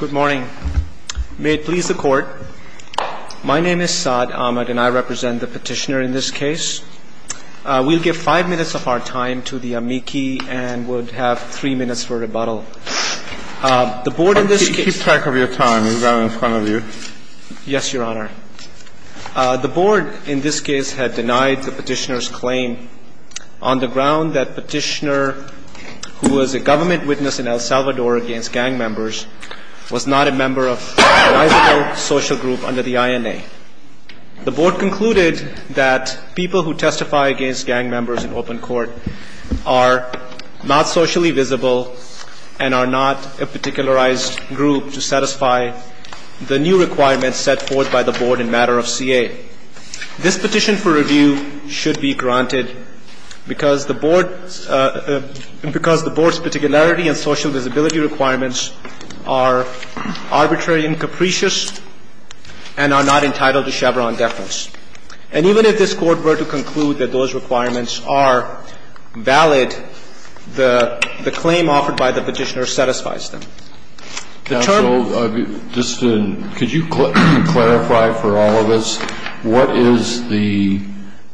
Good morning. May it please the Court, my name is Saad Ahmad and I represent the petitioner in this case. We'll give five minutes of our time to the amici and would have three minutes for rebuttal. Keep track of your time. He's right in front of you. Yes, Your Honor. The board in this case had denied the petitioner's claim on the ground that petitioner, who was a government witness in El Salvador against gang members, was not a member of a social group under the INA. The board concluded that people who testify against gang members in open court are not socially visible and are not a particularized group to satisfy the new requirements set forth by the board in matter of CA. This petition for review should be granted because the board's particularity and social visibility requirements are arbitrary and capricious and are not entitled to Chevron deference. And even if this Court were to conclude that those requirements are valid, the claim offered by the petitioner satisfies them. Counsel, just to, could you clarify for all of us what is the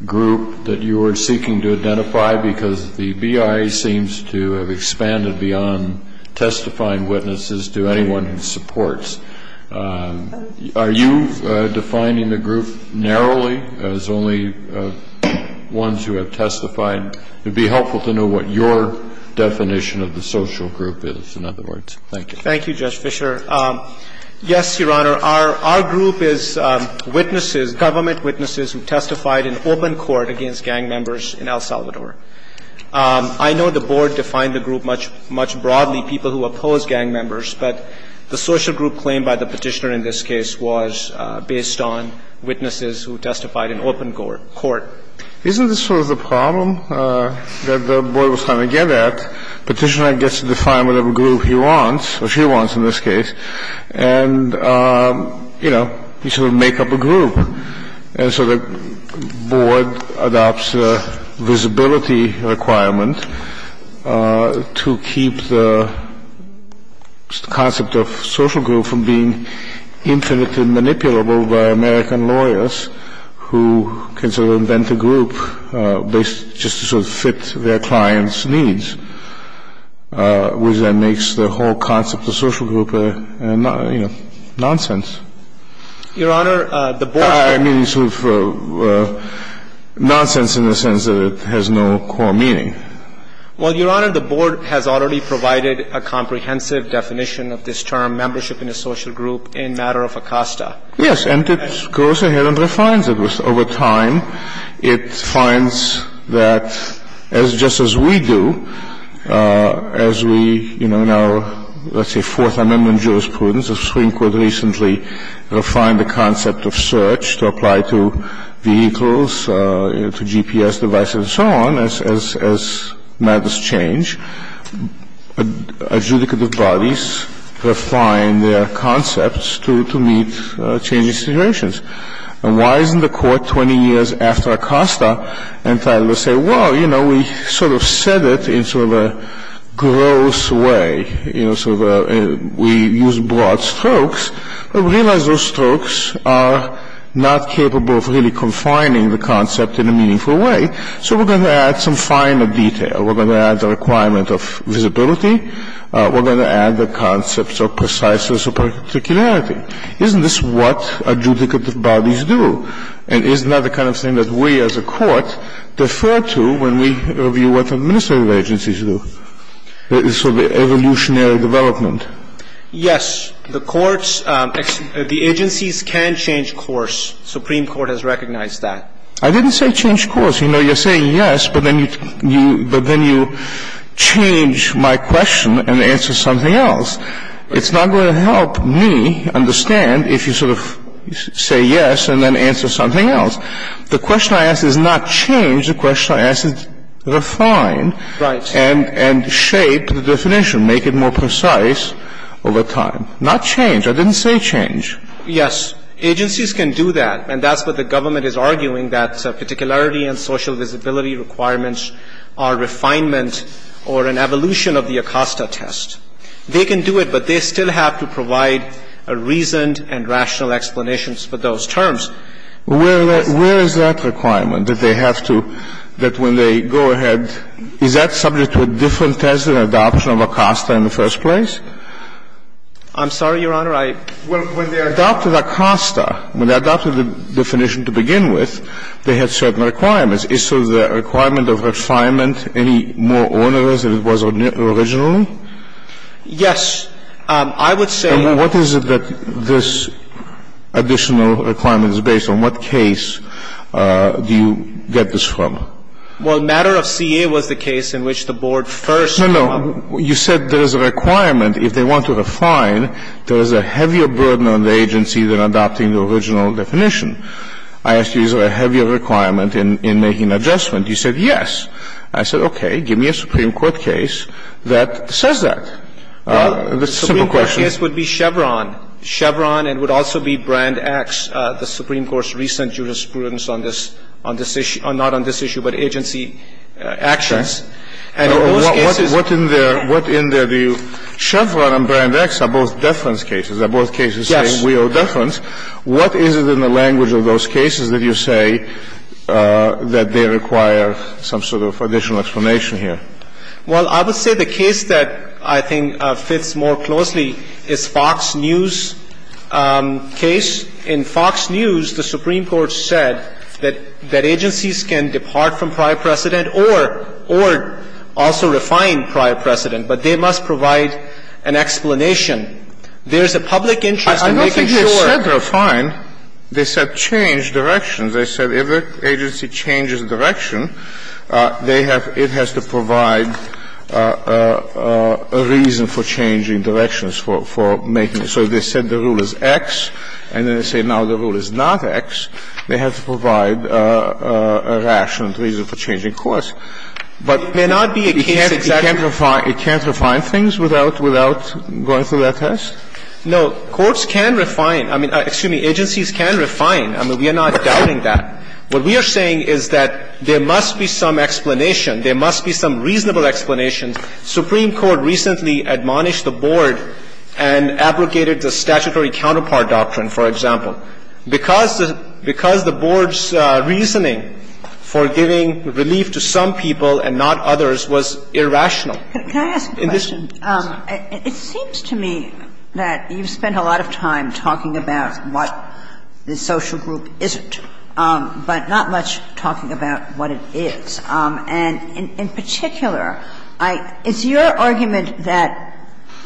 group that you are seeking to identify because the BIA seems to have expanded beyond testifying witnesses to anyone who supports. Are you defining the group narrowly as only ones who have testified? It would be helpful to know what your definition of the social group is, in other words. Thank you. Thank you, Judge Fischer. Yes, Your Honor, our group is witnesses, government witnesses who testified in open court against gang members in El Salvador. I know the board defined the group much broadly, people who oppose gang members, but the social group claimed by the petitioner in this case was based on witnesses who testified in open court. Isn't this sort of the problem that the board was trying to get at? Petitioner gets to define whatever group he wants, or she wants in this case, and, you know, you sort of make up a group. And so the board adopts a visibility requirement to keep the concept of social group from being infinitely manipulable by American lawyers who consider themselves to be the most powerful people in the world. And so the board has to invent a group based just to sort of fit their client's needs, which then makes the whole concept of social group, you know, nonsense. Your Honor, the board ---- I mean sort of nonsense in the sense that it has no core meaning. Well, Your Honor, the board has already provided a comprehensive definition of this term, membership in a social group, in matter of Acosta. Yes, and it goes ahead and refines it. Over time, it finds that as just as we do, as we, you know, in our, let's say, Fourth Amendment jurisprudence, the Supreme Court recently refined the concept of search to apply to vehicles, to GPS devices and so on, as matters change, adjudicative bodies refine their concepts to meet changing situations. And why isn't the court 20 years after Acosta entitled to say, well, you know, we sort of said it in sort of a gross way, you know, sort of a ---- we used broad strokes, but we realize those strokes are not capable of really confining the concept in a meaningful way, so we're going to add some finer detail. We're going to add the requirement of visibility. We're going to add the concepts of preciseness or particularity. Isn't this what adjudicative bodies do? And isn't that the kind of thing that we as a court defer to when we review what the administrative agencies do? It's sort of evolutionary development. Yes. The courts ---- the agencies can change course. The Supreme Court has recognized that. I didn't say change course. You're saying yes, but then you change my question and answer something else. It's not going to help me understand if you sort of say yes and then answer something else. The question I ask is not change. The question I ask is refine. Right. And shape the definition, make it more precise over time. Not change. I didn't say change. Yes. Agencies can do that. And that's what the government is arguing, that particularity and social visibility requirements are refinement or an evolution of the Acosta test. They can do it, but they still have to provide a reasoned and rational explanation for those terms. Well, where is that requirement, that they have to ---- that when they go ahead ---- is that subject to a different test than adoption of Acosta in the first place? I'm sorry, Your Honor, I ---- Well, when they adopted Acosta, when they adopted the definition to begin with, they had certain requirements. Is so the requirement of refinement any more onerous than it was originally? Yes. I would say ---- And what is it that this additional requirement is based on? What case do you get this from? Well, matter of CA was the case in which the board first ---- No, no. You said there is a requirement if they want to refine, there is a heavier burden on the agency than adopting the original definition. I ask you, is there a heavier requirement in making adjustment? You said yes. I said, okay, give me a Supreme Court case that says that. The simple question ---- The Supreme Court case would be Chevron. Chevron and would also be Brand X, the Supreme Court's recent jurisprudence on this issue or not on this issue, but agency actions. And in those cases ---- What in there do you ---- Chevron and Brand X are both deference cases. They're both cases saying we owe deference. Yes. What is it in the language of those cases that you say that they require some sort of additional explanation here? Well, I would say the case that I think fits more closely is Fox News case. In Fox News, the Supreme Court said that agencies can depart from prior precedent or also refine prior precedent, but they must provide an explanation. There is a public interest in making sure ---- I don't think they said refine. They said change directions. They said if an agency changes direction, they have to ---- it has to provide a reason for changing directions for making it. So they said the rule is X, and then they say now the rule is not X. They have to provide a rational reason for changing course. But it may not be a case exactly ---- It can't refine things without going through that test? No. Courts can refine. I mean, excuse me. Agencies can refine. I mean, we are not doubting that. What we are saying is that there must be some explanation. There must be some reasonable explanation. Supreme Court recently admonished the Board and abrogated the statutory counterpart doctrine, for example. Because the Board's reasoning for giving relief to some people and not others was irrational. Can I ask a question? It seems to me that you've spent a lot of time talking about what the social group isn't, but not much talking about what it is. And in particular, I ---- it's your argument that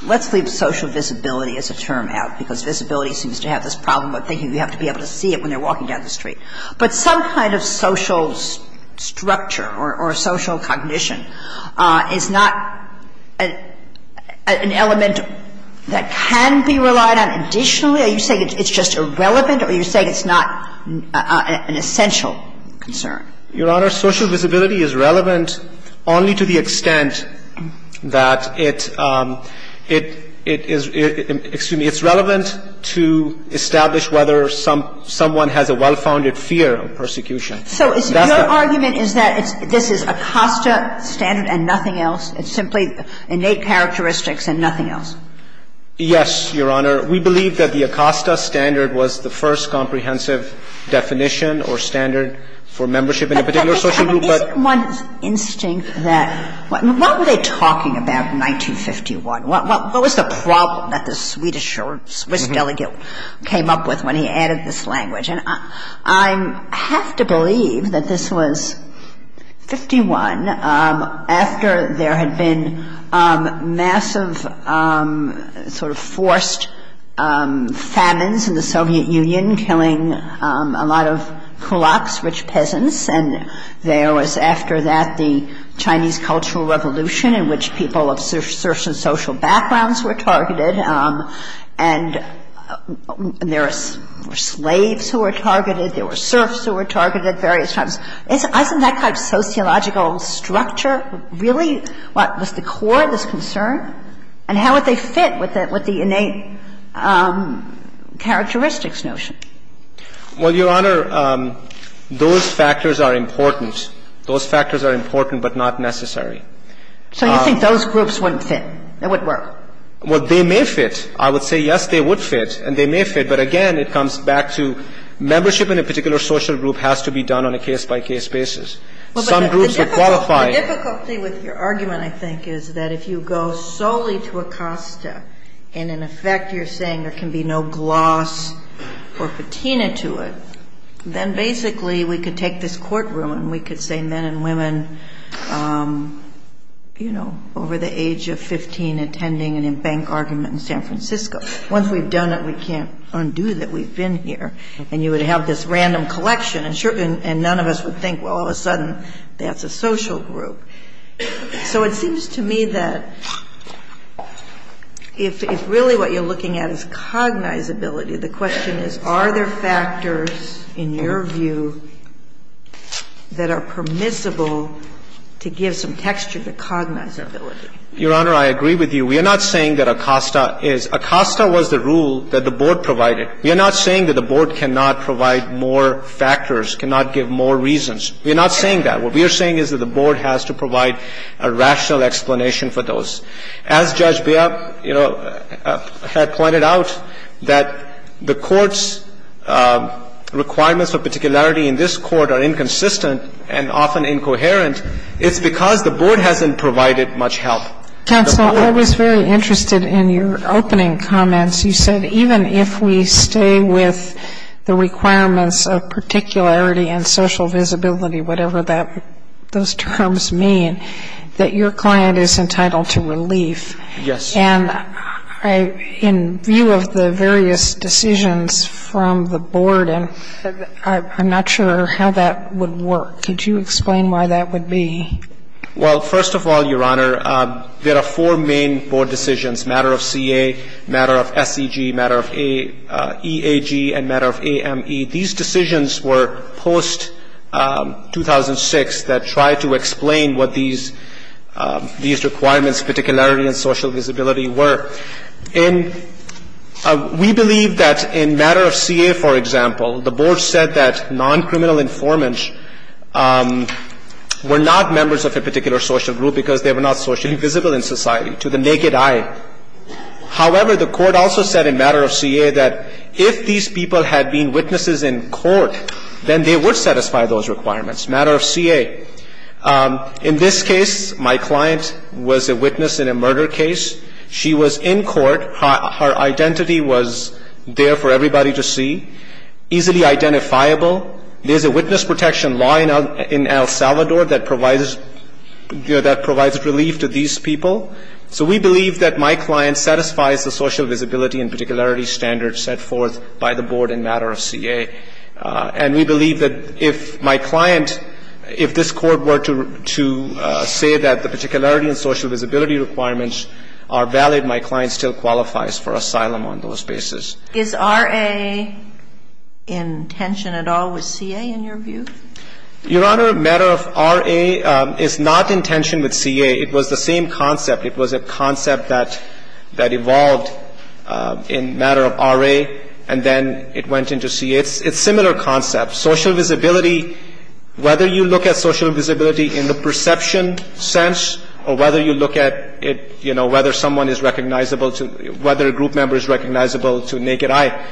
let's leave social visibility as a term out, because visibility seems to have this problem of thinking we have to be able to see it when they're walking down the street. But some kind of social structure or social cognition is not an element that can be relied on additionally? Are you saying it's just irrelevant, or are you saying it's not an essential concern? Your Honor, social visibility is relevant only to the extent that it is important excuse me, it's relevant to establish whether someone has a well-founded fear of persecution. So your argument is that this is Acosta standard and nothing else? It's simply innate characteristics and nothing else? Yes, Your Honor. We believe that the Acosta standard was the first comprehensive definition or standard for membership in a particular social group. But isn't one's instinct that what were they talking about in 1951? What was the problem that the Swedish or Swiss delegate came up with when he added this language? And I have to believe that this was 51, after there had been massive sort of forced famines in the Soviet Union, killing a lot of kulaks, rich peasants. And there was after that the Chinese Cultural Revolution, in which people of certain social backgrounds were targeted, and there were slaves who were targeted, there were serfs who were targeted at various times. Isn't that kind of sociological structure really what was the core of this concern? And how would they fit with the innate characteristics notion? Well, Your Honor, those factors are important. Those factors are important, but not necessary. So you think those groups wouldn't fit? They wouldn't work? Well, they may fit. I would say yes, they would fit, and they may fit. But again, it comes back to membership in a particular social group has to be done on a case-by-case basis. Some groups would qualify. The difficulty with your argument, I think, is that if you go solely to Acosta and in effect you're saying there can be no gloss or patina to it, then basically we could take this courtroom and we could say men and women over the age of 15 attending an embankment argument in San Francisco. Once we've done it, we can't undo that we've been here. And you would have this random collection, and none of us would think, well, all of a sudden that's a social group. So it seems to me that if really what you're looking at is cognizability, the question is are there factors in your view that are permissible to give some texture to cognizability? Your Honor, I agree with you. We are not saying that Acosta is. Acosta was the rule that the Board provided. We are not saying that the Board cannot provide more factors, cannot give more reasons. We are not saying that. What we are saying is that the Board has to provide a rational explanation for those. As Judge Beall, you know, had pointed out, that the Court's requirements of particularity in this Court are inconsistent and often incoherent. It's because the Board hasn't provided much help. Counsel, I was very interested in your opening comments. You said even if we stay with the requirements of particularity and social visibility, whatever those terms mean, that your client is entitled to relief. Yes. And in view of the various decisions from the Board, and I'm not sure how that would work, could you explain why that would be? Well, first of all, Your Honor, there are four main Board decisions, matter of CA, matter of SEG, matter of EAG, and matter of AME. These decisions were post-2006 that tried to explain what these requirements, particularity and social visibility, were. And we believe that in matter of CA, for example, the Board said that non-criminal informants were not members of a particular social group because they were not socially visible in society, to the naked eye. However, the Court also said in matter of CA that if these people had been witnesses in court, then they would satisfy those requirements, matter of CA. In this case, my client was a witness in a murder case. She was in court. Her identity was there for everybody to see, easily identifiable. There's a witness protection law in El Salvador that provides relief to these people. So we believe that my client satisfies the social visibility and particularity standards set forth by the Board in matter of CA. And we believe that if my client, if this Court were to say that the particularity and social visibility requirements are valid, my client still qualifies for asylum on those basis. Is RA in tension at all with CA, in your view? Your Honor, matter of RA is not in tension with CA. It was the same concept. It was a concept that evolved in matter of RA, and then it went into CA. It's a similar concept. Social visibility, whether you look at social visibility in the perception sense or whether you look at it, you know, whether someone is recognizable to, whether a group member is recognizable to naked eye.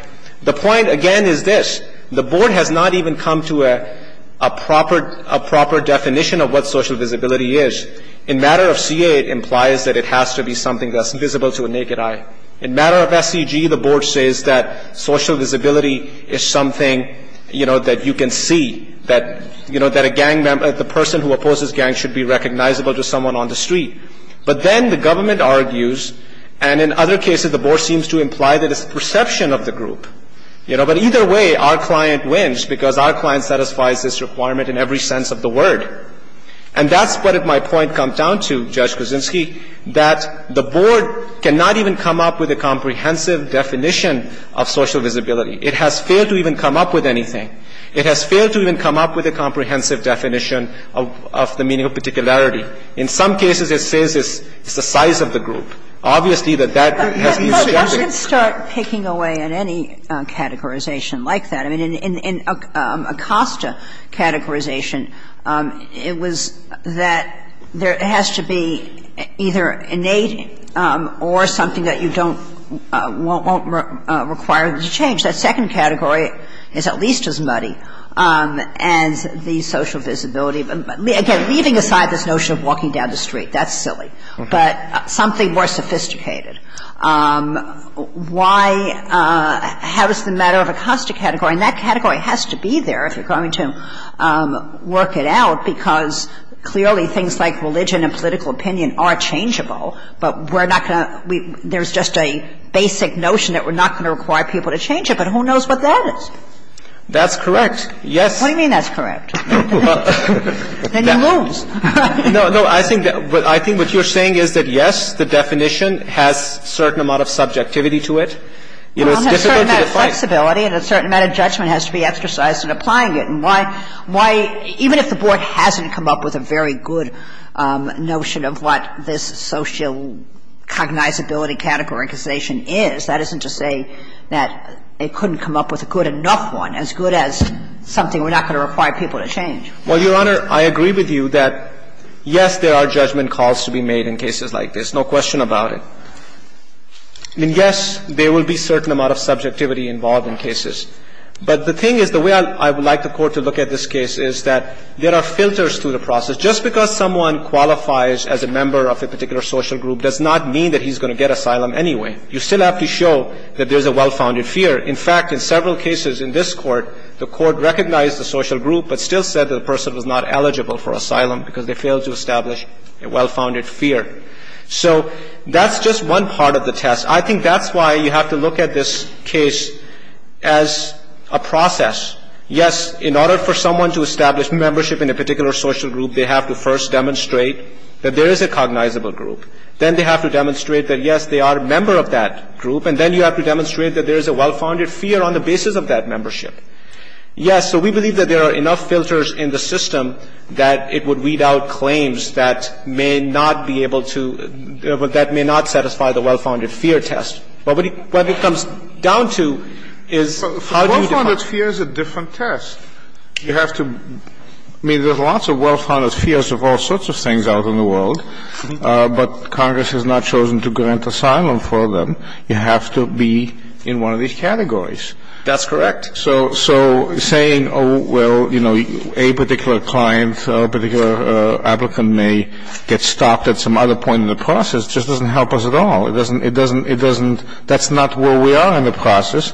The point, again, is this. The Board has not even come to a proper definition of what social visibility is. In matter of CA, it implies that it has to be something that's visible to a naked eye. In matter of SCG, the Board says that social visibility is something, you know, that you can see, that, you know, that a gang member, the person who opposes gangs should be recognizable to someone on the street. But then the government argues, and in other cases the Board seems to imply that it's the perception of the group. You know, but either way, our client wins because our client satisfies this requirement in every sense of the word. And that's what my point comes down to, Judge Kuczynski, that the Board cannot even come up with a comprehensive definition of social visibility. It has failed to even come up with anything. It has failed to even come up with a comprehensive definition of the meaning of particularity. In some cases, it says it's the size of the group. Obviously, that that has no significance. And I'm just going to start picking away on any categorization like that. I mean, in Acosta categorization, it was that there has to be either innate or something that you don't don't require to change. That second category is at least as muddy as the social visibility. Again, leaving aside this notion of walking down the street, that's silly, but something more sophisticated. Why has the matter of Acosta category, and that category has to be there if you're going to work it out, because clearly things like religion and political opinion are changeable, but we're not going to we there's just a basic notion that we're not going to require people to change it. But who knows what that is? That's correct. Yes. What do you mean that's correct? Then you lose. No, no. I think what you're saying is that, yes, the definition has certain amount of subjectivity to it. It's difficult to define. Well, it has a certain amount of flexibility and a certain amount of judgment has to be exercised in applying it. And why, even if the Board hasn't come up with a very good notion of what this social cognizability categorization is, that isn't to say that it couldn't come up with a good enough one, as good as something we're not going to require people to change. Well, Your Honor, I agree with you that, yes, there are judgment calls to be made in cases like this, no question about it. And, yes, there will be certain amount of subjectivity involved in cases. But the thing is, the way I would like the Court to look at this case is that there are filters through the process. Just because someone qualifies as a member of a particular social group does not mean that he's going to get asylum anyway. You still have to show that there's a well-founded fear. In fact, in several cases in this Court, the Court recognized the social group but still said that the person was not eligible for asylum because they failed to establish a well-founded fear. So that's just one part of the test. I think that's why you have to look at this case as a process. Yes, in order for someone to establish membership in a particular social group, they have to first demonstrate that there is a cognizable group. Then they have to demonstrate that, yes, they are a member of that group. And then you have to demonstrate that there is a well-founded fear on the basis of that membership. Yes, so we believe that there are enough filters in the system that it would weed out claims that may not be able to – that may not satisfy the well-founded fear test. But what it comes down to is how do you define it? Well-founded fear is a different test. You have to – I mean, there's lots of well-founded fears of all sorts of things out in the world. But Congress has not chosen to grant asylum for them. You have to be in one of these categories. That's correct. So saying, oh, well, you know, a particular client, a particular applicant may get stopped at some other point in the process just doesn't help us at all. It doesn't – it doesn't – that's not where we are in the process.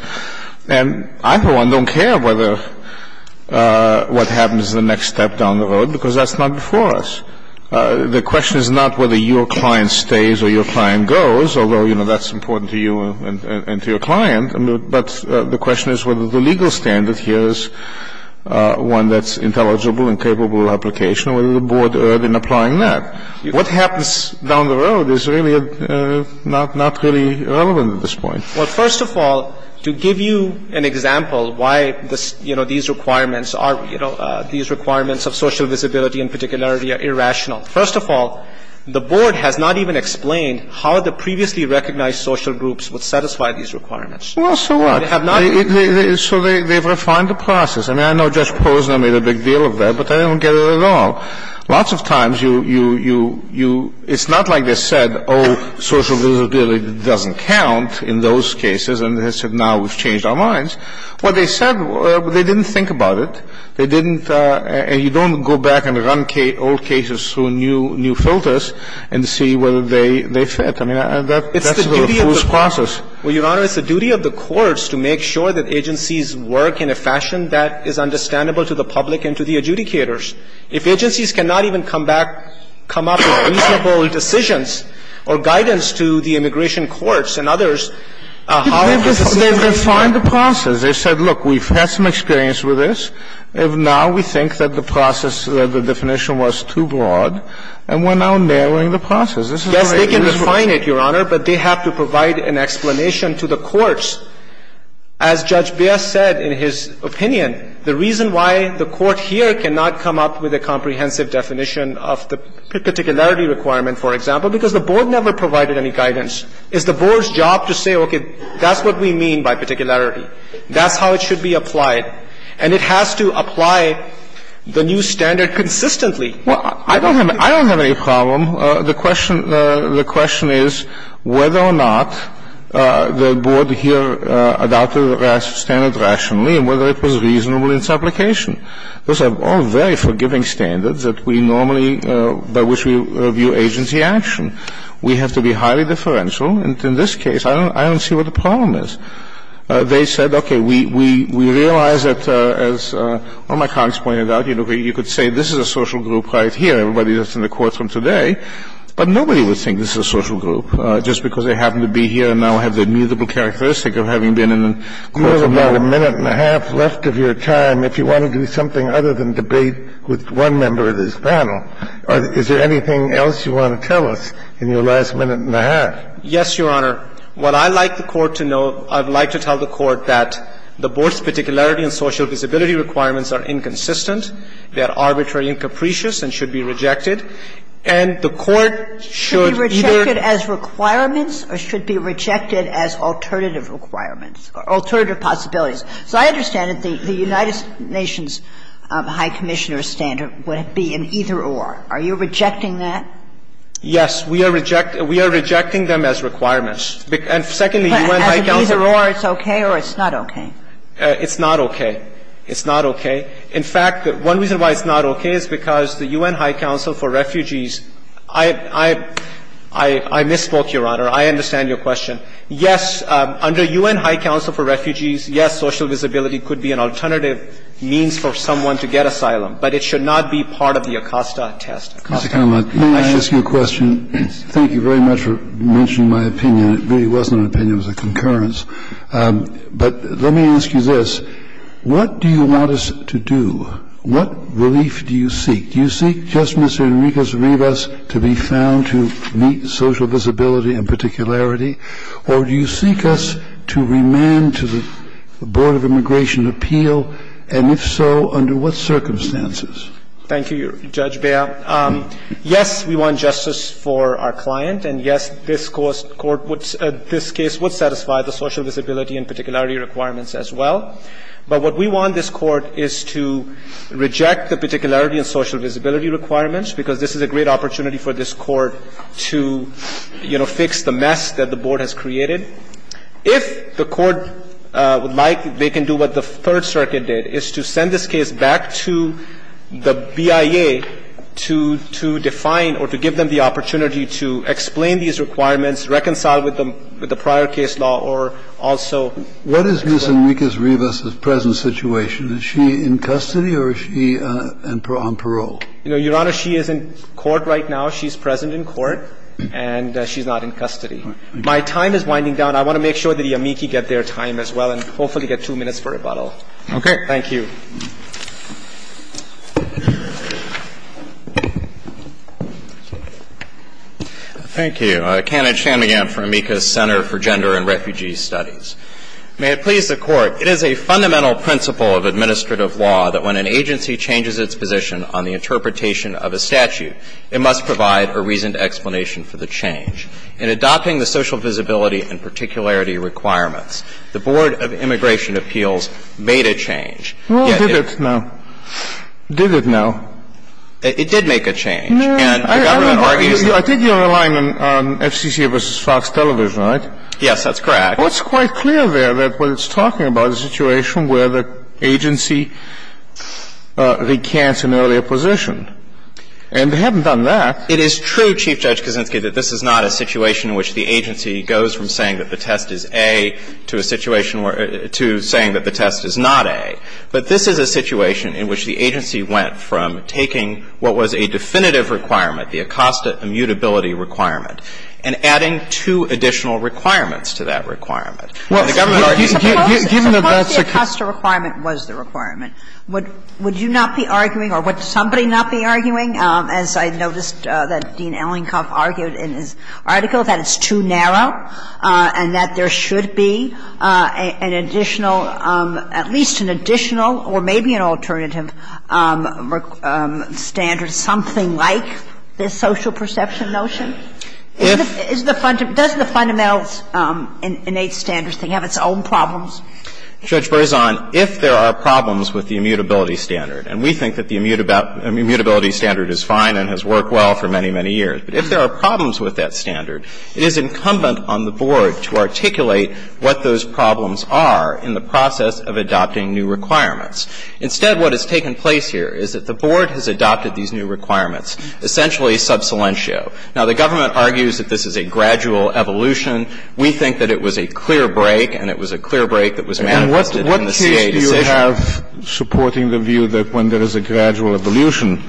And I, for one, don't care whether – what happens the next step down the road because that's not before us. The question is not whether your client stays or your client goes, although, you know, that's important to you and to your client. But the question is whether the legal standard here is one that's intelligible and capable of application or whether the Board erred in applying that. What happens down the road is really not – not really relevant at this point. Well, first of all, to give you an example why, you know, these requirements are – you know, these requirements of social visibility in particular are irrational, first of all, the Board has not even explained how the previously recognized social groups would satisfy these requirements. Well, so what? They have not. So they've refined the process. I mean, I know Judge Posner made a big deal of that, but I don't get it at all. Lots of times you – it's not like they said, oh, social visibility doesn't count in those cases and they said now we've changed our minds. What they said, they didn't think about it. They didn't – and you don't go back and run old cases through new filters and see whether they fit. I mean, that's the refused process. It's the duty of the – well, Your Honor, it's the duty of the courts to make sure that agencies work in a fashion that is understandable to the public and to the adjudicators. If agencies cannot even come back – come up with reasonable decisions or guidance to the immigration courts and others, how are they going to do that? They've refined the process. They said, look, we've had some experience with this. Now we think that the process, the definition was too broad, and we're now narrowing the process. Yes, they can refine it, Your Honor, but they have to provide an explanation to the courts. As Judge Baer said in his opinion, the reason why the court here cannot come up with a comprehensive definition of the particularity requirement, for example, because the Board never provided any guidance. It's the Board's job to say, okay, that's what we mean by particularity. That's how it should be applied. And it has to apply the new standard consistently. Well, I don't have any problem. The question is whether or not the Board here adopted the standard rationally and whether it was reasonable in its application. Those are all very forgiving standards that we normally – by which we review agency action. We have to be highly differential. And in this case, I don't see what the problem is. They said, okay, we realize that, as one of my colleagues pointed out, you could say this is a social group right here, everybody that's in the courts from today, but nobody would think this is a social group just because they happen to be here and now have the amusable characteristic of having been in the courts for a while. You have about a minute and a half left of your time if you want to do something other than debate with one member of this panel. Is there anything else you want to tell us in your last minute and a half? Yes, Your Honor. What I'd like the Court to know, I'd like to tell the Court that the Board's particularity and social visibility requirements are inconsistent, they are arbitrary and capricious and should be rejected, and the Court should either – Should be rejected as requirements or should be rejected as alternative requirements or alternative possibilities? So I understand that the United Nations High Commissioner standard would be an either-or. Are you rejecting that? Yes. We are rejecting them as requirements. And secondly, the UN High Council – But as an either-or, it's okay or it's not okay? It's not okay. It's not okay. In fact, one reason why it's not okay is because the UN High Council for Refugees – I misspoke, Your Honor. I understand your question. Yes, under UN High Council for Refugees, yes, social visibility could be an alternative means for someone to get asylum, but it should not be part of the ACOSTA test. Mr. Conlon, may I ask you a question? Thank you very much for mentioning my opinion. It really wasn't an opinion. It was a concurrence. But let me ask you this. What do you want us to do? What relief do you seek? Do you seek just Mr. Enriquez-Rivas to be found to meet social visibility and particularity, or do you seek us to remand to the Board of Immigration appeal, and if so, under what circumstances? Thank you, Judge Bea. Yes, we want justice for our client, and yes, this Court would – this case would satisfy the social visibility and particularity requirements as well. But what we want this Court is to reject the particularity and social visibility requirements, because this is a great opportunity for this Court to, you know, fix the mess that the Board has created. If the Court would like, they can do what the Third Circuit did, is to send this case back to the BIA to define or to give them the opportunity to explain these requirements, reconcile with the prior case law, or also – What is Ms. Enriquez-Rivas' present situation? Is she in custody or is she on parole? Your Honor, she is in court right now. She's present in court, and she's not in custody. My time is winding down. I want to make sure that the amici get their time as well and hopefully get two minutes for rebuttal. Okay. Thank you. Thank you. Kenneth Shanmugam for Amica Center for Gender and Refugee Studies. May it please the Court, it is a fundamental principle of administrative law that when an agency changes its position on the interpretation of a statute, it must provide a reasoned explanation for the change. In adopting the social visibility and particularity requirements, the Board of Immigration Appeals made a change. Well, did it now. Did it now. It did make a change. No. I think you're relying on FCC v. Fox Television, right? Yes, that's correct. Well, it's quite clear there that what it's talking about is a situation where the agency recants an earlier position. And they haven't done that. Well, I'm not saying that the agency goes from saying that the test is A to a situation where to saying that the test is not A. But this is a situation in which the agency went from taking what was a definitive requirement, the Acosta immutability requirement, and adding two additional requirements to that requirement. Well, given that that's a case. Suppose the Acosta requirement was the requirement. Would you not be arguing or would somebody not be arguing, as I noticed that Dean Burzon has said, that there should be a narrow and that there should be an additional at least an additional or maybe an alternative standard, something like this social perception notion? If. Doesn't the fundamental innate standards thing have its own problems? Judge Burzon, if there are problems with the immutability standard, and we think that the immutability standard is fine and has worked well for many, many years. But if there are problems with that standard, it is incumbent on the Board to articulate what those problems are in the process of adopting new requirements. Instead, what has taken place here is that the Board has adopted these new requirements, essentially subsilentio. Now, the government argues that this is a gradual evolution. We think that it was a clear break and it was a clear break that was manifested in the CA decision. And what case do you have supporting the view that when there is a gradual evolution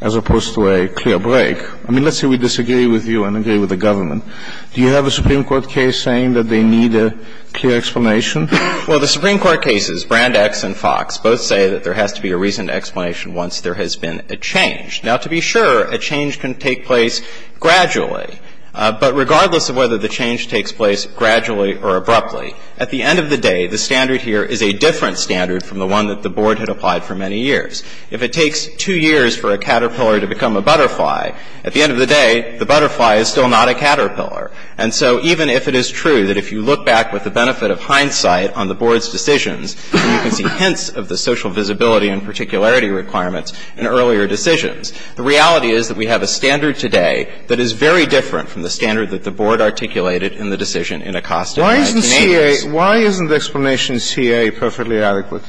as opposed to a clear break? I mean, let's say we disagree with you and agree with the government. Do you have a Supreme Court case saying that they need a clear explanation? Well, the Supreme Court cases, Brand X and Fox, both say that there has to be a reasoned explanation once there has been a change. Now, to be sure, a change can take place gradually. But regardless of whether the change takes place gradually or abruptly, at the end of the day, the standard here is a different standard from the one that the Board had applied for many years. If it takes two years for a caterpillar to become a butterfly, at the end of the day, the butterfly is still not a caterpillar. And so even if it is true that if you look back with the benefit of hindsight on the Board's decisions, you can see hints of the social visibility and particularity requirements in earlier decisions, the reality is that we have a standard today that is very different from the standard that the Board articulated in the decision in Acosta in the 1980s. Why isn't CA — why isn't the explanation CA perfectly adequate?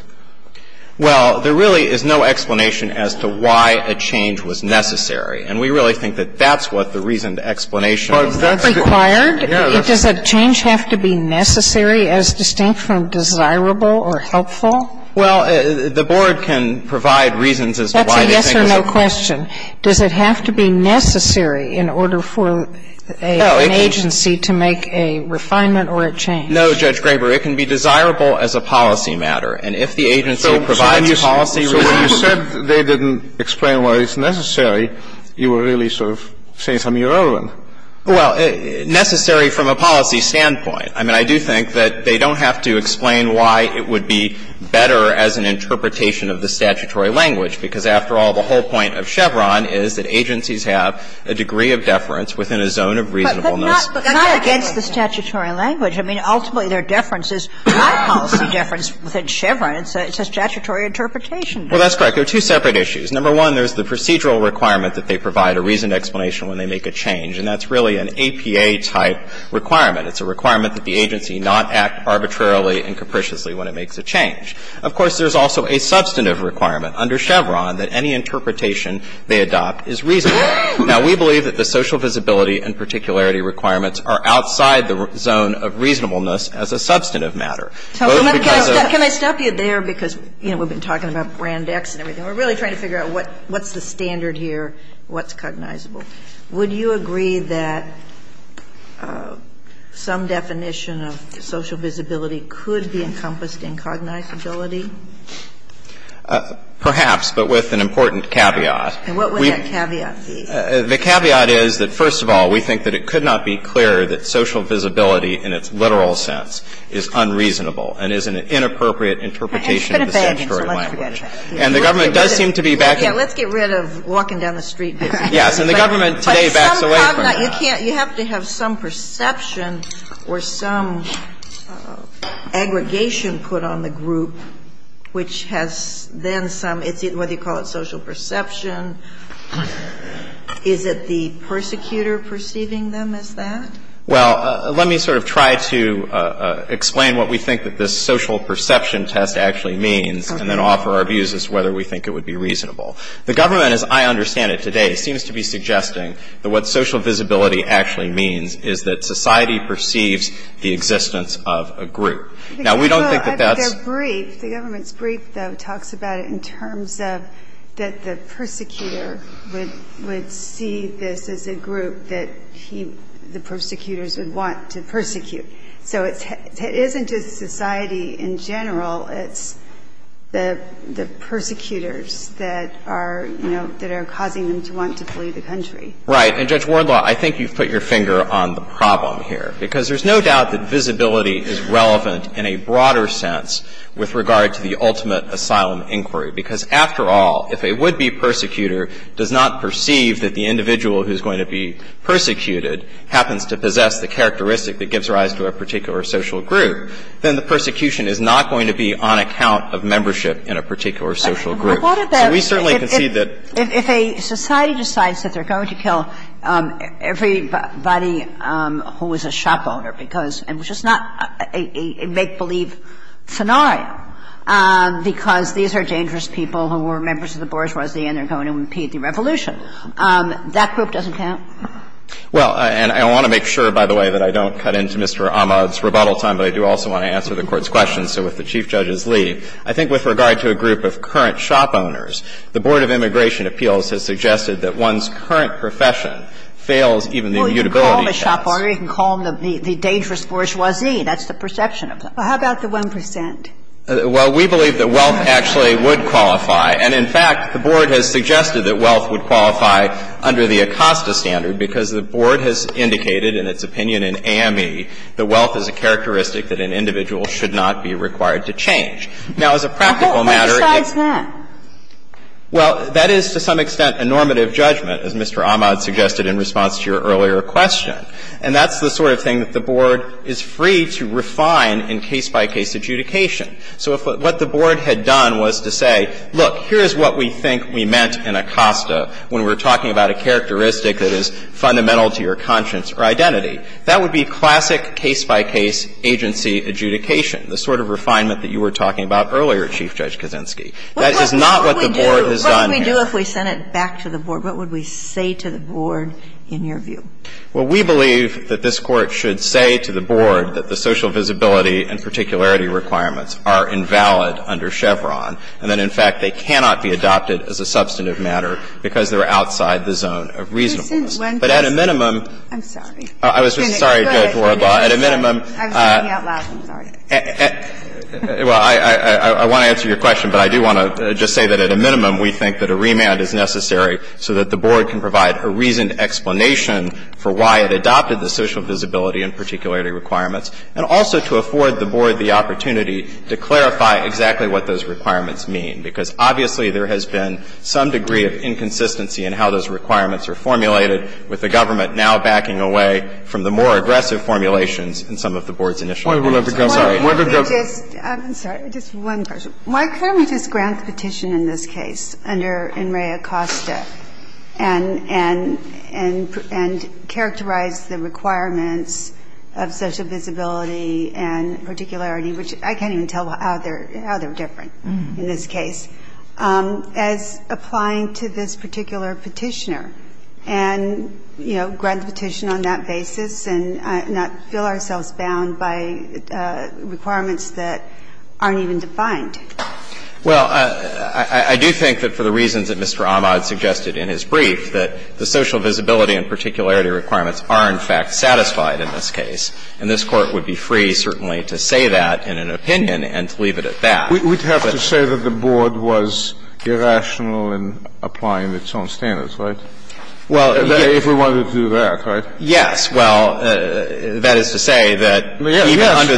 Well, there really is no explanation as to why a change was necessary. And we really think that that's what the reasoned explanation required. Does a change have to be necessary as distinct from desirable or helpful? Well, the Board can provide reasons as to why they think it's a question. That's a yes or no question. Does it have to be necessary in order for an agency to make a refinement or a change? No, Judge Graber. It can be desirable as a policy matter. And if the agency provides policy reasons — So when you said they didn't explain why it's necessary, you were really sort of saying something irrelevant. Well, necessary from a policy standpoint. I mean, I do think that they don't have to explain why it would be better as an interpretation of the statutory language, because after all, the whole point of Chevron is that agencies have a degree of deference within a zone of reasonableness. But not against the statutory language. I mean, ultimately, their deference is high policy deference within Chevron. It's a statutory interpretation. Well, that's correct. There are two separate issues. Number one, there's the procedural requirement that they provide a reasoned explanation when they make a change. And that's really an APA-type requirement. It's a requirement that the agency not act arbitrarily and capriciously when it makes a change. Of course, there's also a substantive requirement under Chevron that any interpretation they adopt is reasonable. Now, we believe that the social visibility and particularity requirements are outside the zone of reasonableness as a substantive matter. Can I stop you there? Because, you know, we've been talking about Brand X and everything. We're really trying to figure out what's the standard here, what's cognizable. Would you agree that some definition of social visibility could be encompassed in cognizability? Perhaps, but with an important caveat. And what would that caveat be? The caveat is that, first of all, we think that it could not be clearer that social visibility in its literal sense is unreasonable and is an inappropriate interpretation of the statutory language. And the government does seem to be backing it. Let's get rid of walking down the street. Yes. And the government today backs away from that. But you have to have some perception or some aggregation put on the group which has then some, whether you call it social perception, is it the persecutor perceiving them as that? Well, let me sort of try to explain what we think that this social perception test actually means and then offer our views as to whether we think it would be reasonable. The government, as I understand it today, seems to be suggesting that what social visibility actually means is that society perceives the existence of a group. Now, we don't think that that's the case. Well, I think they're brief. The government's brief, though, talks about it in terms of that the persecutor would see this as a group that he, the persecutors, would want to persecute. So it isn't just society in general. It's the persecutors that are, you know, that are causing them to want to flee the country. Right. And, Judge Wardlaw, I think you've put your finger on the problem here. Because there's no doubt that visibility is relevant in a broader sense with regard to the ultimate asylum inquiry, because, after all, if a would-be persecutor does not perceive that the individual who's going to be persecuted happens to possess the characteristic that gives rise to a particular social group, then the persecution is not going to be on account of membership in a particular social group. So we certainly concede that. If a society decides that they're going to kill everybody who is a shop owner because — and which is not a make-believe scenario, because these are dangerous people who were members of the bourgeoisie and they're going to impede the revolution, that group doesn't count? Well, and I want to make sure, by the way, that I don't cut into Mr. Ahmad's rebuttal time, but I do also want to answer the Court's question. So if the Chief Judge is Lee, I think with regard to a group of current shop owners, the Board of Immigration Appeals has suggested that one's current profession fails even the immutability test. Well, you can call them a shop owner, you can call them the dangerous bourgeoisie. That's the perception of them. Well, how about the 1 percent? Well, we believe that wealth actually would qualify. And, in fact, the Board has suggested that wealth would qualify under the ACOSTA standard, because the Board has indicated in its opinion in AME that wealth is a characteristic that an individual should not be required to change. Now, as a practical matter, it's not. Well, that is, to some extent, a normative judgment, as Mr. Ahmad suggested in response to your earlier question. And that's the sort of thing that the Board is free to refine in case-by-case adjudication. So if what the Board had done was to say, look, here's what we think we meant in ACOSTA when we were talking about a characteristic that is fundamental to your conscience or identity, that would be classic case-by-case agency adjudication, the sort of refinement that you were talking about earlier, Chief Judge Kaczynski. That is not what the Board has done here. What would we do if we sent it back to the Board? What would we say to the Board in your view? Well, we believe that this Court should say to the Board that the social visibility and particularity requirements are invalid under Chevron, and that, in fact, they cannot be adopted as a substantive matter because they're outside the zone of reasonableness. But at a minimum – I'm sorry. I was just – sorry, Judge Warbaugh. Well, I want to answer your question, but I do want to just say that at a minimum we think that a remand is necessary so that the Board can provide a reasoned explanation for why it adopted the social visibility and particularity requirements, and also to afford the Board the opportunity to clarify exactly what those requirements mean, because obviously there has been some degree of inconsistency in how those applications in some of the Board's initial hearings. I'm sorry. Just one question. Why couldn't we just grant the petition in this case under In re Acosta and characterize the requirements of social visibility and particularity, which I can't even tell how they're different in this case, as applying to this particular petitioner and, you know, grant the petition on that basis and not feel ourselves bound by requirements that aren't even defined? Well, I do think that for the reasons that Mr. Ahmad suggested in his brief, that the social visibility and particularity requirements are in fact satisfied in this case, and this Court would be free certainly to say that in an opinion and to leave it at that. We'd have to say that the Board was irrational in applying its own standards, right? Well, if we wanted to do that, right? Yes. Well, that is to say that even under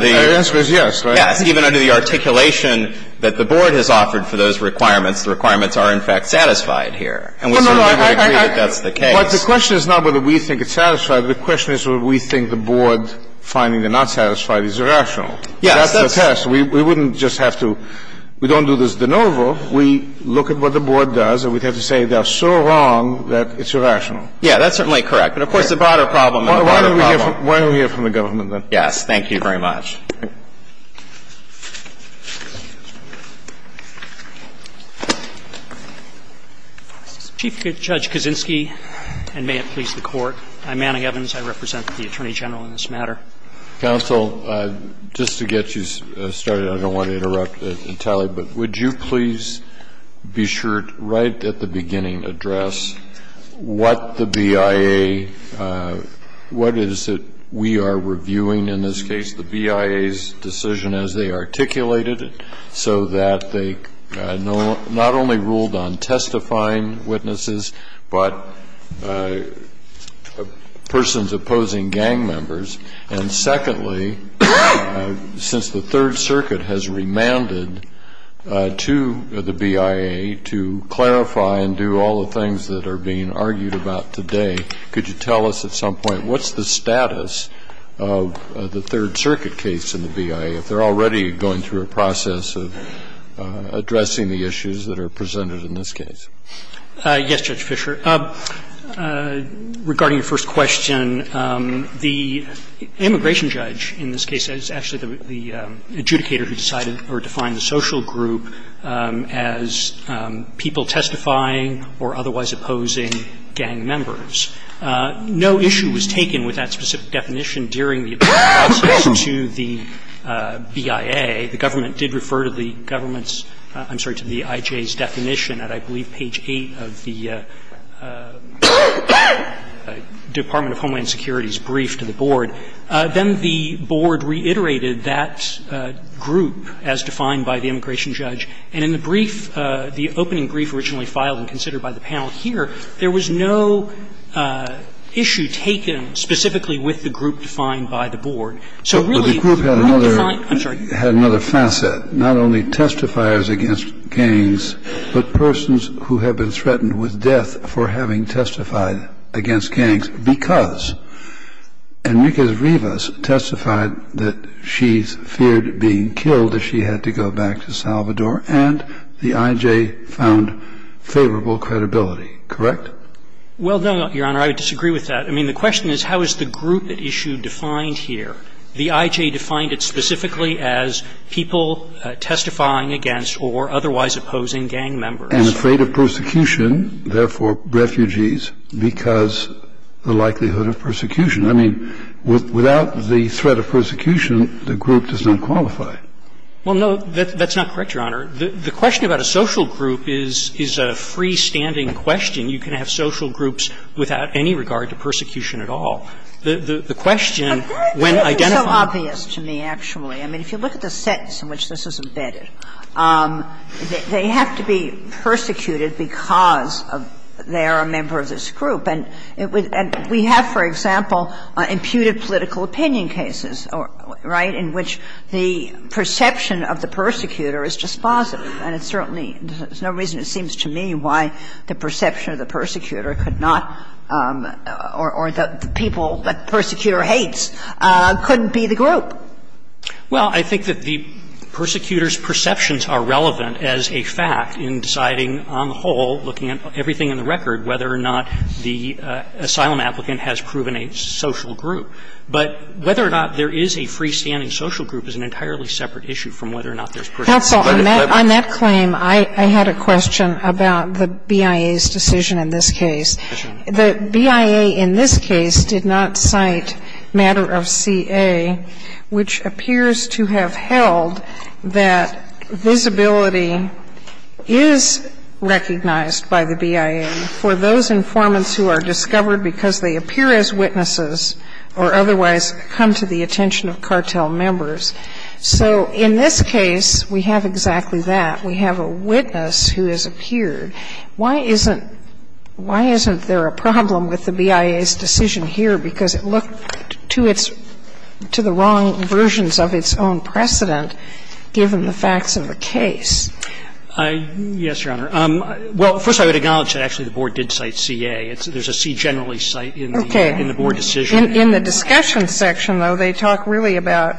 the articulation that the Board has offered for those requirements, the requirements are in fact satisfied here. And we certainly would agree that that's the case. But the question is not whether we think it's satisfied. The question is whether we think the Board finding it not satisfied is irrational. Yes. That's the test. We wouldn't just have to – we don't do this de novo. We look at what the Board does and we'd have to say they're so wrong that it's irrational. Yeah. That's certainly correct. But of course, the broader problem is the broader problem. Why don't we hear from the government then? Yes. Thank you very much. Chief Judge Kaczynski, and may it please the Court. I'm Manning Evans. I represent the Attorney General in this matter. Counsel, just to get you started, I don't want to interrupt and tell you, but would you please be sure right at the beginning address what the BIA, what is it we are reviewing in this case, the BIA's decision as they articulated it so that they not only ruled on testifying witnesses, but persons opposing gang members. And secondly, since the Third Circuit has remanded to the BIA to clarify and do all the things that are being argued about today, could you tell us at some point what's the status of the Third Circuit case in the BIA, if they're already going through a process of addressing the issues that are presented in this case? Yes, Judge Fischer. Regarding your first question, the immigration judge in this case is actually the adjudicator who decided or defined the social group as people testifying or otherwise opposing gang members. No issue was taken with that specific definition during the appeal process to the BIA. The government did refer to the government's – I'm sorry, to the IJ's definition at I believe page 8 of the Department of Homeland Security's brief to the board. Then the board reiterated that group as defined by the immigration judge. And in the brief, the opening brief originally filed and considered by the panel here, there was no issue taken specifically with the group defined by the board. But the group had another facet, not only testifiers against gangs, but persons who have been threatened with death for having testified against gangs because Enriquez-Rivas testified that she feared being killed if she had to go back to Salvador and the IJ found favorable credibility, correct? Well, no, Your Honor. I would disagree with that. I mean, the question is how is the group issue defined here? The IJ defined it specifically as people testifying against or otherwise opposing gang members. And afraid of persecution, therefore refugees, because the likelihood of persecution. I mean, without the threat of persecution, the group does not qualify. Well, no, that's not correct, Your Honor. The question about a social group is a freestanding question. I mean, you can have social groups without any regard to persecution at all. The question, when identified by the group. But this is so obvious to me, actually. I mean, if you look at the sense in which this is embedded, they have to be persecuted because they are a member of this group. And we have, for example, imputed political opinion cases, right, in which the perception of the persecutor is dispositive, and it's certainly no reason it seems to me why the perception of the persecutor could not, or the people that the persecutor hates couldn't be the group. Well, I think that the persecutor's perceptions are relevant as a fact in deciding on the whole, looking at everything in the record, whether or not the asylum applicant has proven a social group. But whether or not there is a freestanding social group is an entirely separate issue from whether or not there's persecution. Sotomayor, on that claim, I had a question about the BIA's decision in this case. The BIA in this case did not cite matter of CA, which appears to have held that visibility is recognized by the BIA for those informants who are discovered because they appear as witnesses or otherwise come to the attention of cartel members. So in this case, we have exactly that. We have a witness who has appeared. Why isn't there a problem with the BIA's decision here? Because it looked to its to the wrong versions of its own precedent, given the facts of the case. Yes, Your Honor. Well, first I would acknowledge that actually the Board did cite CA. There's a C generally cite in the Board decision. In the discussion section, though, they talk really about,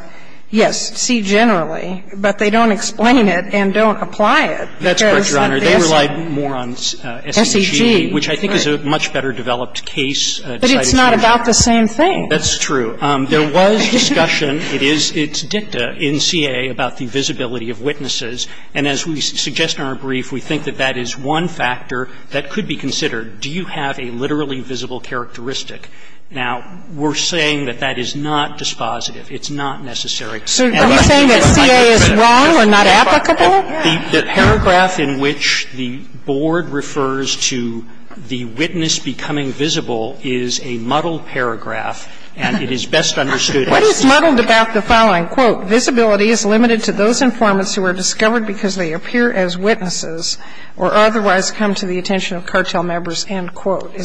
yes, C generally. But they don't explain it and don't apply it. That's correct, Your Honor. They relied more on SEG, which I think is a much better developed case. But it's not about the same thing. That's true. There was discussion. It is dicta in CA about the visibility of witnesses. And as we suggest in our brief, we think that that is one factor that could be considered. Do you have a literally visible characteristic? Now, we're saying that that is not dispositive. It's not necessary. So are you saying that CA is wrong or not applicable? The paragraph in which the Board refers to the witness becoming visible is a muddled paragraph, and it is best understood as C. What is muddled about the following? Quote, Is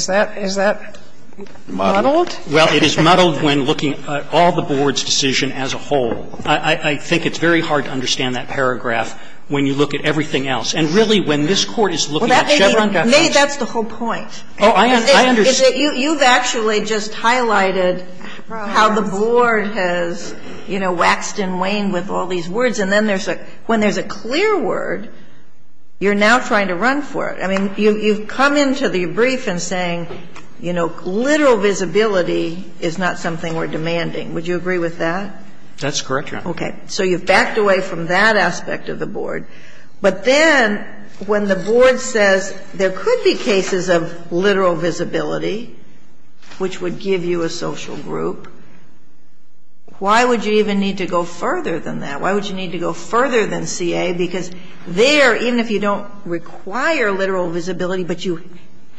that muddled? Well, it is muddled when looking at all the Board's decision as a whole. I think it's very hard to understand that paragraph when you look at everything else. And really, when this Court is looking at Chevron documents. That's the whole point. Oh, I understand. You've actually just highlighted how the Board has, you know, waxed and waned with all these words, and then there's a – when there's a clear word, you're now trying to run for it. I mean, you've come into the brief and saying, you know, literal visibility is not something we're demanding. Would you agree with that? That's correct, Your Honor. Okay. So you've backed away from that aspect of the Board. But then when the Board says there could be cases of literal visibility, which would give you a social group, why would you even need to go further than that? Why would you need to go further than CA? Because there, even if you don't require literal visibility, but you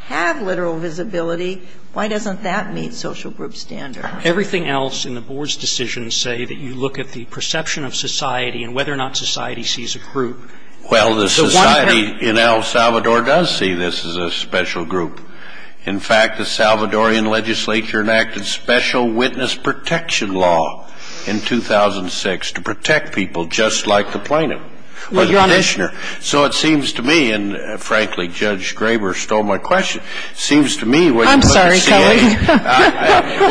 have literal visibility, why doesn't that meet social group standards? Everything else in the Board's decision say that you look at the perception of society and whether or not society sees a group. Well, the society in El Salvador does see this as a special group. In fact, the Salvadoran legislature enacted special witness protection law in 2006 to protect people just like the plaintiff or the petitioner. So it seems to me, and frankly, Judge Graber stole my question. It seems to me when you look at CA – I'm sorry, Kelly.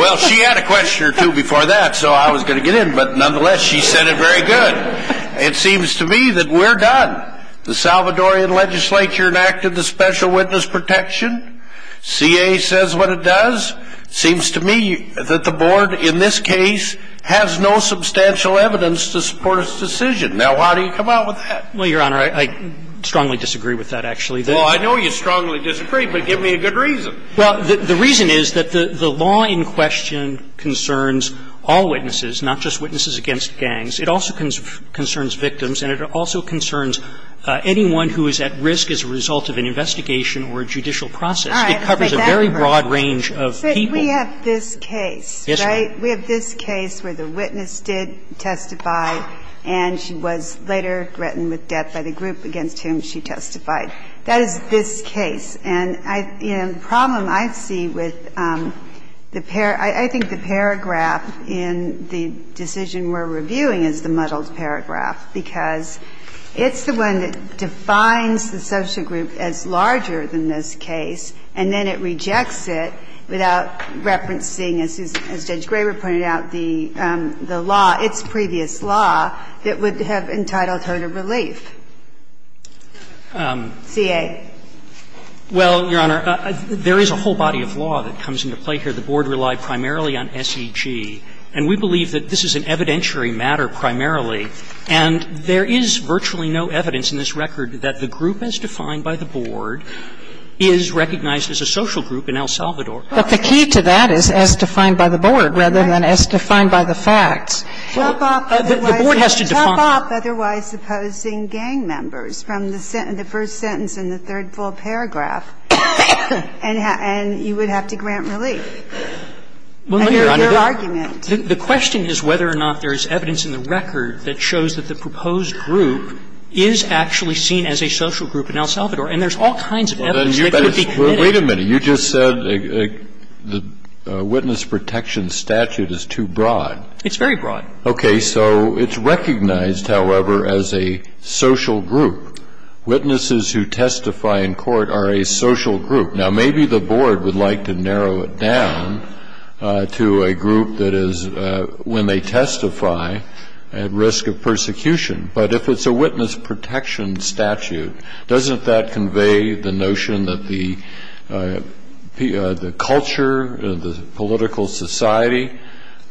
Well, she had a question or two before that, so I was going to get in. But nonetheless, she said it very good. It seems to me that we're done. The Salvadoran legislature enacted the special witness protection. CA says what it does. It seems to me that the Board in this case has no substantial evidence to support its decision. Now, how do you come out with that? Well, Your Honor, I strongly disagree with that, actually. Well, I know you strongly disagree, but give me a good reason. Well, the reason is that the law in question concerns all witnesses, not just witnesses against gangs. It also concerns victims, and it also concerns anyone who is at risk as a result of an investigation or judicial process. It covers a very broad range of people. But we have this case, right? We have this case where the witness did testify, and she was later threatened with death by the group against whom she testified. That is this case. And the problem I see with the paragraph, I think the paragraph in the decision we're reviewing is the muddled paragraph, because it's the one that defines the social group as larger than this case, and then it rejects it without referencing, as Judge Graber pointed out, the law, its previous law, that would have entitled her to relief. CA. Well, Your Honor, there is a whole body of law that comes into play here. The board relied primarily on SEG, and we believe that this is an evidentiary matter primarily. And there is virtually no evidence in this record that the group as defined by the board is recognized as a social group in El Salvador. But the key to that is as defined by the board rather than as defined by the facts. The board has to define it. Top off otherwise opposing gang members from the first sentence in the third full paragraph, and you would have to grant relief. Your argument. The question is whether or not there is evidence in the record that shows that the proposed group is actually seen as a social group in El Salvador. And there's all kinds of evidence that could be committed. Well, wait a minute. You just said the witness protection statute is too broad. It's very broad. Okay. So it's recognized, however, as a social group. Witnesses who testify in court are a social group. Now, maybe the board would like to narrow it down to a group that is, when they testify, at risk of persecution. But if it's a witness protection statute, doesn't that convey the notion that the culture, the political society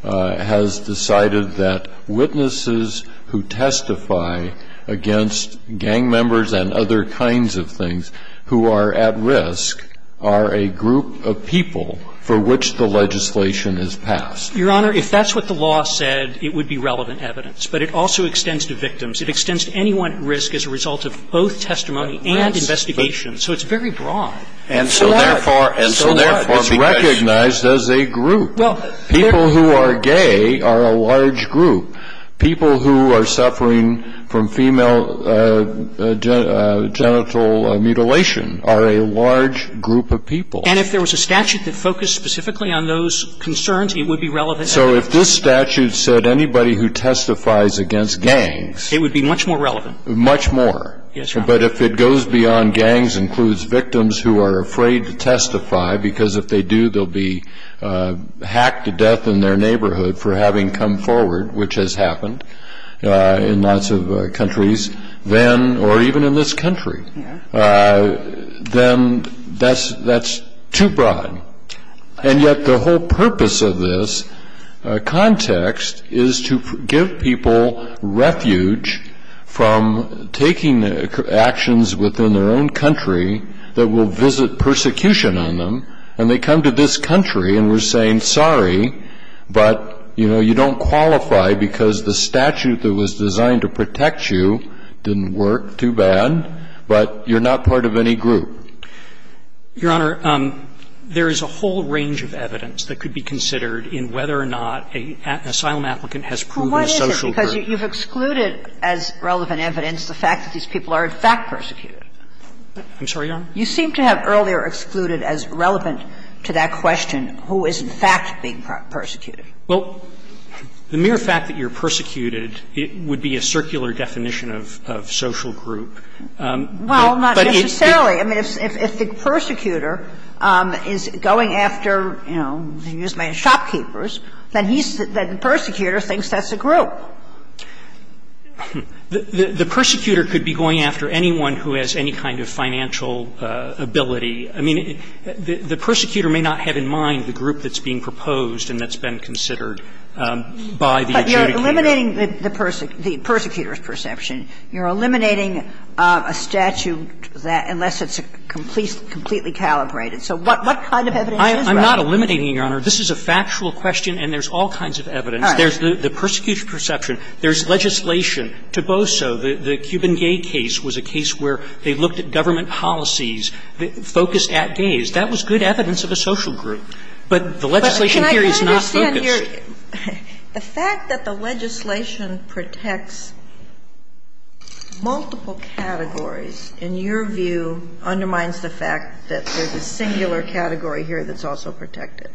has decided that witnesses who testify against gang members and other kinds of things who are at risk are a group of people for which the legislation is passed? Your Honor, if that's what the law said, it would be relevant evidence. But it also extends to victims. It extends to anyone at risk as a result of both testimony and investigation. So it's very broad. And so therefore, it's recognized as a group. People who are gay are a large group. People who are suffering from female genital mutilation are a large group of people. And if there was a statute that focused specifically on those concerns, it would be relevant evidence. So if this statute said anybody who testifies against gangs. Much more. Yes, Your Honor. But if it goes beyond gangs, includes victims who are afraid to testify, because if they do, they'll be hacked to death in their neighborhood for having come forward, which has happened in lots of countries, then, or even in this country, then that's too broad. And yet the whole purpose of this context is to give people refuge from taking actions within their own country that will visit persecution on them. And they come to this country, and we're saying, sorry, but, you know, you don't qualify because the statute that was designed to protect you didn't work too bad. But you're not part of any group. Your Honor, there is a whole range of evidence that could be considered in whether or not an asylum applicant has proven a social group. Because you've excluded as relevant evidence the fact that these people are, in fact, persecuted. I'm sorry, Your Honor? You seem to have earlier excluded as relevant to that question who is, in fact, being persecuted. Well, the mere fact that you're persecuted, it would be a circular definition of social group. Well, not necessarily. I mean, if the persecutor is going after, you know, shopkeepers, then he's the persecutor and the persecutor thinks that's a group. The persecutor could be going after anyone who has any kind of financial ability. I mean, the persecutor may not have in mind the group that's being proposed and that's been considered by the adjudicator. But you're eliminating the persecutor's perception. You're eliminating a statute that, unless it's completely calibrated. So what kind of evidence is that? I'm not eliminating it, Your Honor. This is a factual question and there's all kinds of evidence. All right. There's the persecuted perception. There's legislation. Toboso, the Cuban gay case, was a case where they looked at government policies focused at gays. That was good evidence of a social group. But the legislation here is not focused. But can I understand your – the fact that the legislation protects multiple categories, in your view, undermines the fact that there's a singular category here that's also protected?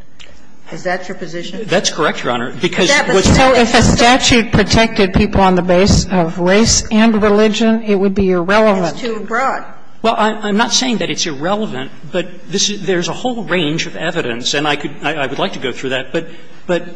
Is that your position? That's correct, Your Honor. Because what's going on is that if a statute protected people on the basis of race and religion, it would be irrelevant. It's too broad. Well, I'm not saying that it's irrelevant. But there's a whole range of evidence. And I could – I would like to go through that. But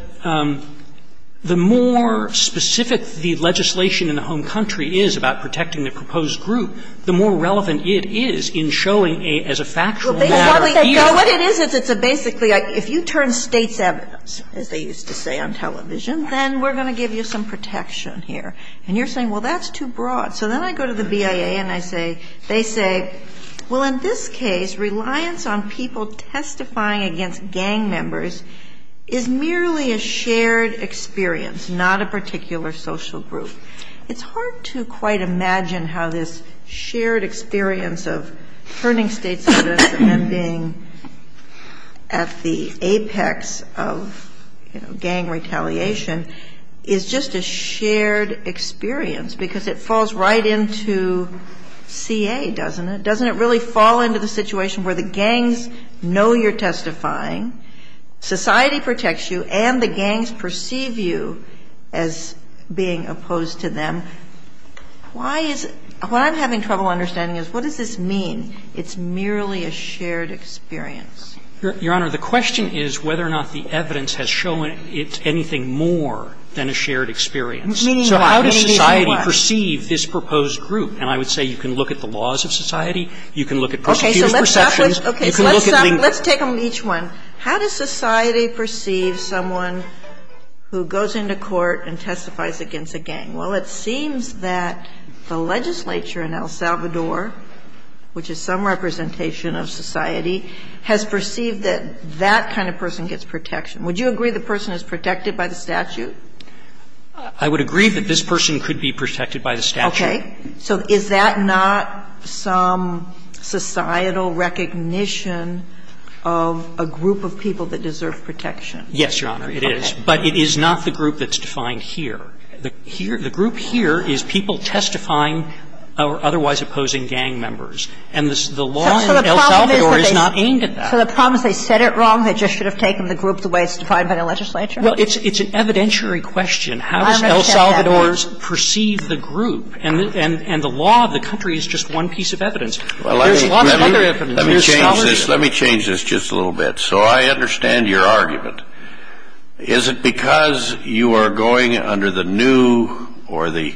the more specific the legislation in the home country is about protecting the proposed group, the more relevant it is in showing as a factual matter. Well, basically, what it is, it's a basically – if you turn states' evidence, as they used to say on television, then we're going to give you some protection here. And you're saying, well, that's too broad. So then I go to the BIA and I say – they say, well, in this case, reliance on people testifying against gang members is merely a shared experience, not a particular social group. And being at the apex of, you know, gang retaliation is just a shared experience because it falls right into CA, doesn't it? Doesn't it really fall into the situation where the gangs know you're testifying, society protects you, and the gangs perceive you as being opposed to them? Why is – what I'm having trouble understanding is what does this mean? It's merely a shared experience. Your Honor, the question is whether or not the evidence has shown it's anything more than a shared experience. Meaning what? So how does society perceive this proposed group? And I would say you can look at the laws of society, you can look at persecuted perceptions, you can look at – Okay. So let's take each one. How does society perceive someone who goes into court and testifies against a gang? Well, it seems that the legislature in El Salvador, which is some representation of society, has perceived that that kind of person gets protection. Would you agree the person is protected by the statute? I would agree that this person could be protected by the statute. Okay. So is that not some societal recognition of a group of people that deserve protection? Yes, Your Honor, it is. But it is not the group that's defined here. The group here is people testifying or otherwise opposing gang members. And the law in El Salvador is not aimed at that. So the problem is they said it wrong, they just should have taken the group the way it's defined by the legislature? Well, it's an evidentiary question. How does El Salvador perceive the group? And the law of the country is just one piece of evidence. There's a lot of other evidence. Let me change this just a little bit. So I understand your argument. Is it because you are going under the new or the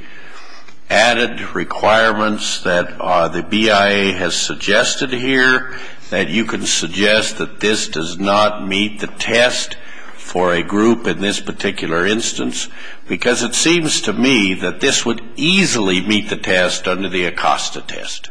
added requirements that the BIA has suggested here, that you can suggest that this does not meet the test for a group in this particular instance? Because it seems to me that this would easily meet the test under the Acosta test.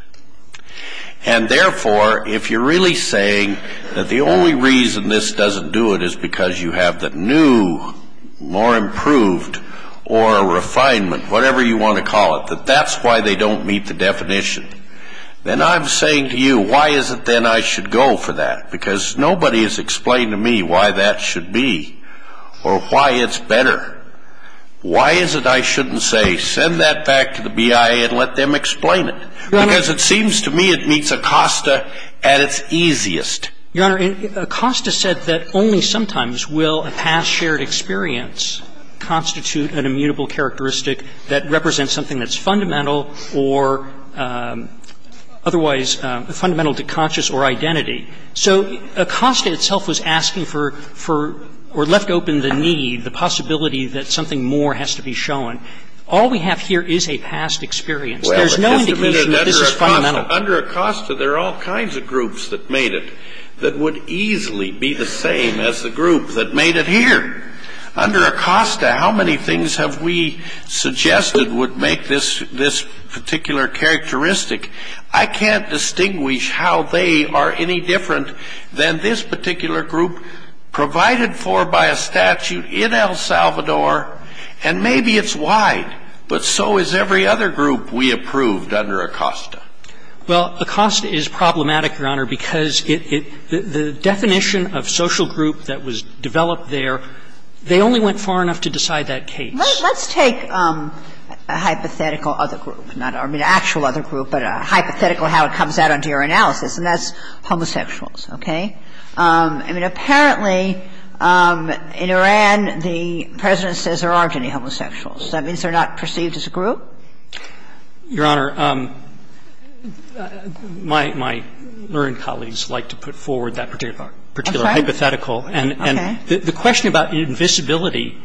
And therefore, if you're really saying that the only reason this doesn't do it is because you have the new, more improved, or refinement, whatever you want to call it, that that's why they don't meet the definition, then I'm saying to you, why is it then I should go for that? Because nobody has explained to me why that should be or why it's better. Why is it I shouldn't say, send that back to the BIA and let them explain it? Because it seems to me it meets Acosta at its easiest. Your Honor, Acosta said that only sometimes will a past shared experience constitute an immutable characteristic that represents something that's fundamental or otherwise fundamental to conscious or identity. So Acosta itself was asking for or left open the need, the possibility that something more has to be shown. All we have here is a past experience. There's no indication that this is fundamental. Under Acosta, there are all kinds of groups that made it that would easily be the same as the group that made it here. Under Acosta, how many things have we suggested would make this particular characteristic? I can't distinguish how they are any different than this particular group provided for by a statute in El Salvador, and maybe it's wide, but so is every other group we approved under Acosta. Well, Acosta is problematic, Your Honor, because the definition of social group that was developed there, they only went far enough to decide that case. Let's take a hypothetical other group, not our actual other group, but a hypothetical how it comes out under your analysis, and that's homosexuals, okay? I mean, apparently in Iran, the President says there aren't any homosexuals. That means they're not perceived as a group? Your Honor, my learned colleagues like to put forward that particular hypothetical. Okay. And the question about invisibility,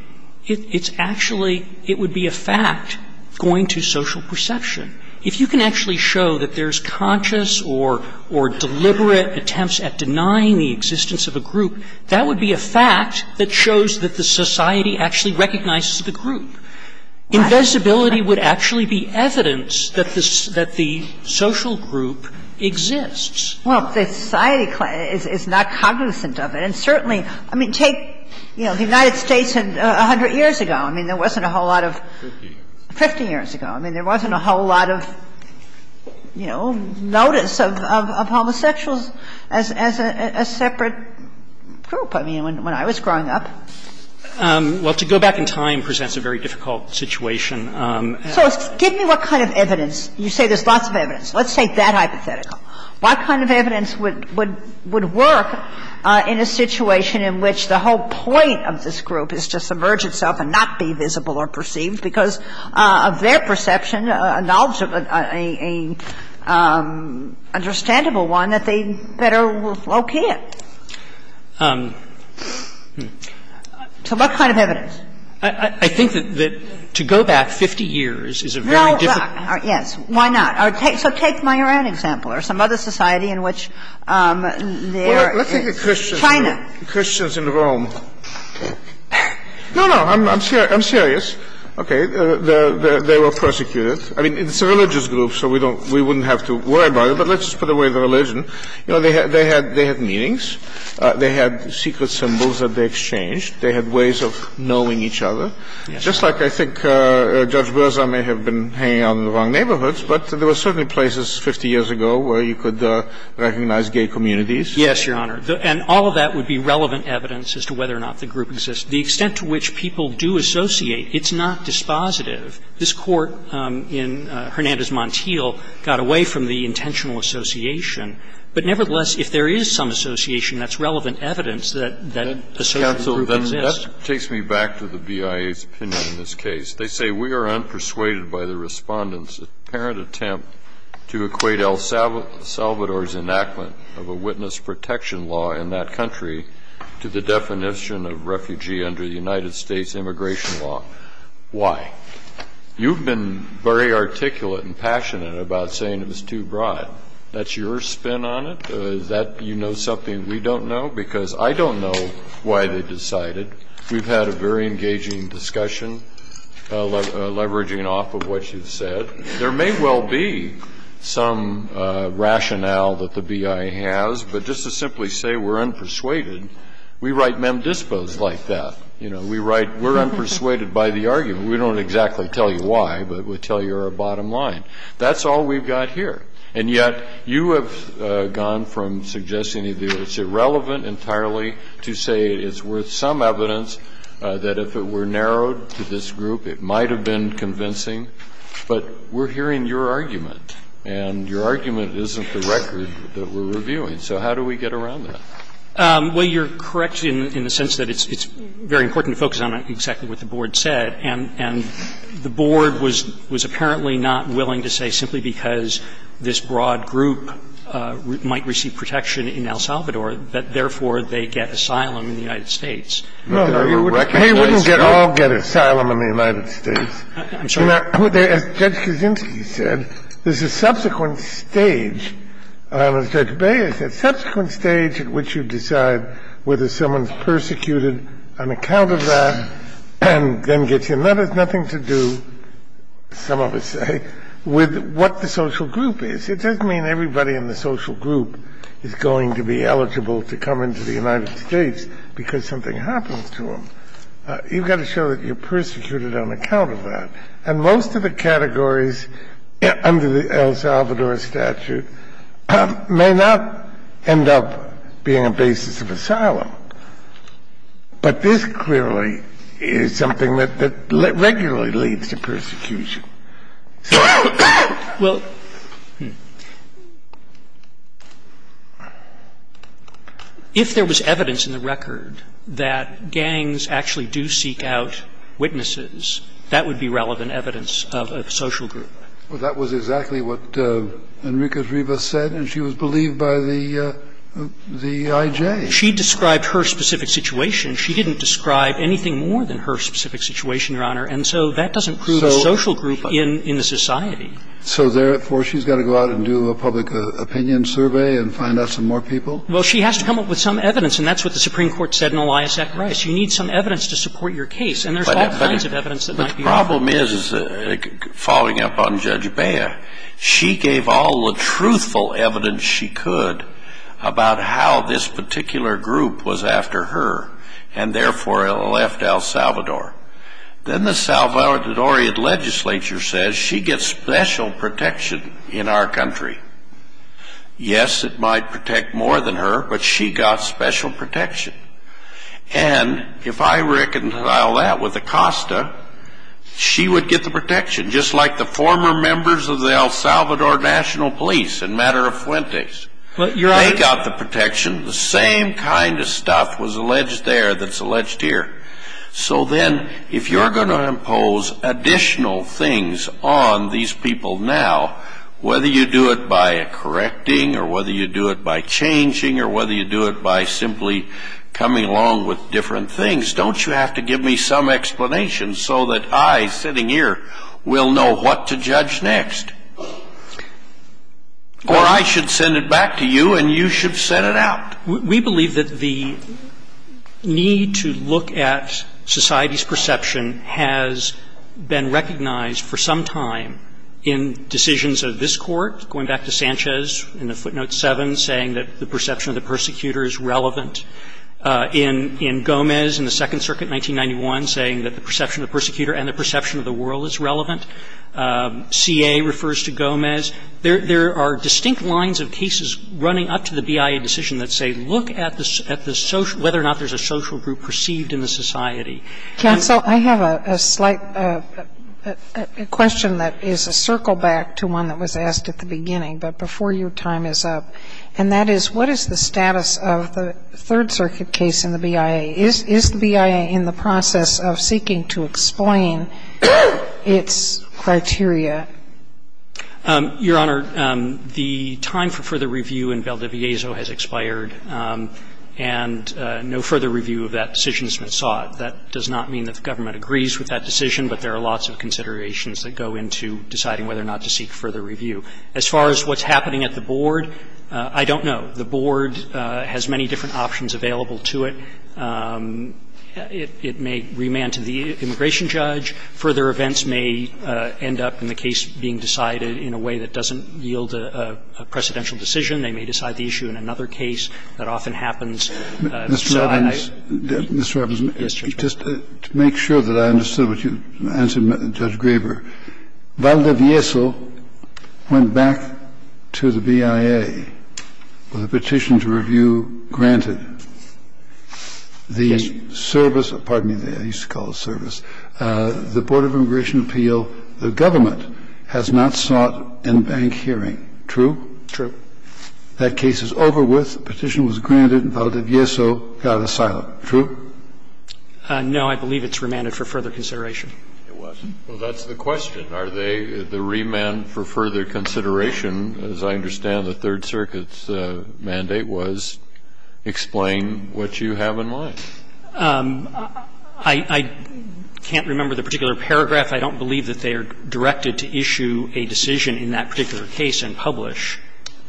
it's actually, it would be a fact going to social perception. If you can actually show that there's conscious or deliberate attempts at denying the existence of a group, that would be a fact that shows that the society actually recognizes the group. Invisibility would actually be evidence that the social group exists. Well, the society is not cognizant of it. And certainly, I mean, take, you know, the United States 100 years ago. I mean, there wasn't a whole lot of 50 years ago. I mean, there wasn't a whole lot of, you know, notice of homosexuals as a separate group, I mean, when I was growing up. Well, to go back in time presents a very difficult situation. So give me what kind of evidence. You say there's lots of evidence. Let's take that hypothetical. What kind of evidence would work in a situation in which the whole point of this that it's perceived because of their perception, a knowledgeable, a understandable one that they better locate. So what kind of evidence? I think that to go back 50 years is a very difficult question. Well, yes. Why not? So take my Iran example or some other society in which there is China. Let's take the Christians in Rome. No, no. I'm serious. Okay. They were persecuted. I mean, it's a religious group, so we don't we wouldn't have to worry about it. But let's just put away the religion. You know, they had meetings. They had secret symbols that they exchanged. They had ways of knowing each other. Just like I think Judge Berzah may have been hanging out in the wrong neighborhoods, but there were certainly places 50 years ago where you could recognize gay communities. Yes, Your Honor. And all of that would be relevant evidence as to whether or not the group exists. The extent to which people do associate, it's not dispositive. This Court in Hernandez Montiel got away from the intentional association. But nevertheless, if there is some association that's relevant evidence that a certain group exists. That takes me back to the BIA's opinion in this case. They say we are unpersuaded by the Respondent's apparent attempt to equate El Salvador's enactment of a witness protection law in that country to the definition of refugee under the United States immigration law. Why? You've been very articulate and passionate about saying it was too broad. That's your spin on it? Is that you know something we don't know? Because I don't know why they decided. We've had a very engaging discussion leveraging off of what you've said. There may well be some rationale that the BIA has. But just to simply say we're unpersuaded, we write mem dispos like that. You know, we write we're unpersuaded by the argument. We don't exactly tell you why, but we tell you you're a bottom line. That's all we've got here. And yet you have gone from suggesting that it's irrelevant entirely to say it's worth And I think there's some evidence that if it were narrowed to this group, it might have been convincing, but we're hearing your argument and your argument isn't the record that we're reviewing. So how do we get around that? Well, you're correct in the sense that it's very important to focus on exactly what the Board said. And the Board was apparently not willing to say simply because this broad group might receive protection in El Salvador that, therefore, they get asylum in the United States. Kennedy, they wouldn't all get asylum in the United States. I'm sorry. As Judge Kaczynski said, there's a subsequent stage. As Judge Baez said, subsequent stage at which you decide whether someone's persecuted on account of that and then gets in. That has nothing to do, some of us say, with what the social group is. It doesn't mean everybody in the social group is going to be eligible to come into the United States because something happens to them. You've got to show that you're persecuted on account of that. And most of the categories under the El Salvador statute may not end up being a basis of asylum. But this clearly is something that regularly leads to persecution. Well, if there was evidence in the record that gangs actually do seek out witnesses, that would be relevant evidence of a social group. Well, that was exactly what Enriquez-Rivas said, and she was believed by the IJ. She described her specific situation. She didn't describe anything more than her specific situation, Your Honor. And so that doesn't prove a social group in the society. So therefore, she's got to go out and do a public opinion survey and find out some more people? Well, she has to come up with some evidence, and that's what the Supreme Court said in Elias S. Rice. You need some evidence to support your case, and there's all kinds of evidence that might be offered. But the problem is, following up on Judge Baer, she gave all the truthful evidence she could about how this particular group was after her and therefore left El Salvador. Then the Salvadorian legislature says she gets special protection in our country. Yes, it might protect more than her, but she got special protection. And if I reconcile that with Acosta, she would get the protection, just like the former members of the El Salvador National Police in matter of Fuentes. They got the protection. The same kind of stuff was alleged there that's alleged here. So then if you're going to impose additional things on these people now, whether you do it by correcting or whether you do it by changing or whether you do it by simply coming along with different things, don't you have to give me some explanation so that I, sitting here, will know what to judge next? Or I should send it back to you and you should set it out. We believe that the need to look at society's perception has been recognized for some time in decisions of this Court, going back to Sanchez in the footnote 7 saying that the perception of the persecutor is relevant, in Gomez in the Second Circuit saying that the perception of the persecutor is relevant. CA refers to Gomez. There are distinct lines of cases running up to the BIA decision that say look at the social, whether or not there's a social group perceived in the society. And so I have a slight question that is a circle back to one that was asked at the beginning, but before your time is up, and that is what is the status of the Third Circuit case in the BIA, is the BIA in the process of seeking to explain its criteria? Your Honor, the time for further review in Valdiviezo has expired and no further review of that decision has been sought. That does not mean that the government agrees with that decision, but there are lots of considerations that go into deciding whether or not to seek further review. As far as what's happening at the Board, I don't know. The Board has many different options available to it. It may remand to the immigration judge. Further events may end up in the case being decided in a way that doesn't yield a precedential decision. They may decide the issue in another case. That often happens. So I don't know. Kennedy, just to make sure that I understood what you answered, Judge Graber, Valdiviezo went back to the BIA with a petition to review, granted, the service of the Board of Immigration Appeal the government has not sought in bank hearing. True? True. That case is over with. Petition was granted. Valdiviezo got asylum. True? No, I believe it's remanded for further consideration. It wasn't. Well, that's the question. Are they, the remand for further consideration, as I understand the Third Circuit's mandate was, explain what you have in mind? I can't remember the particular paragraph. I don't believe that they are directed to issue a decision in that particular case and publish.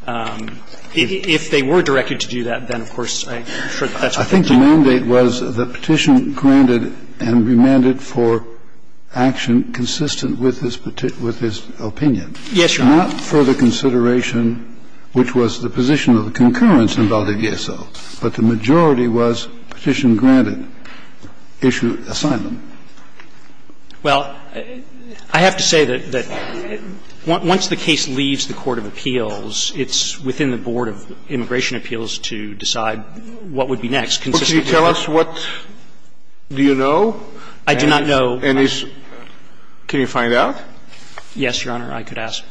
If they were directed to do that, then, of course, I'm sure that's what they did. I think the mandate was the petition granted and remanded for action consistent with his opinion. Yes, Your Honor. Not further consideration, which was the position of the concurrence in Valdiviezo. But the majority was petition granted, issue asylum. Well, I have to say that once the case leaves the court of appeals, it's within the Board of Immigration Appeals to decide what would be next. Well, can you tell us what do you know? I do not know. Can you find out? Yes, Your Honor. I could ask.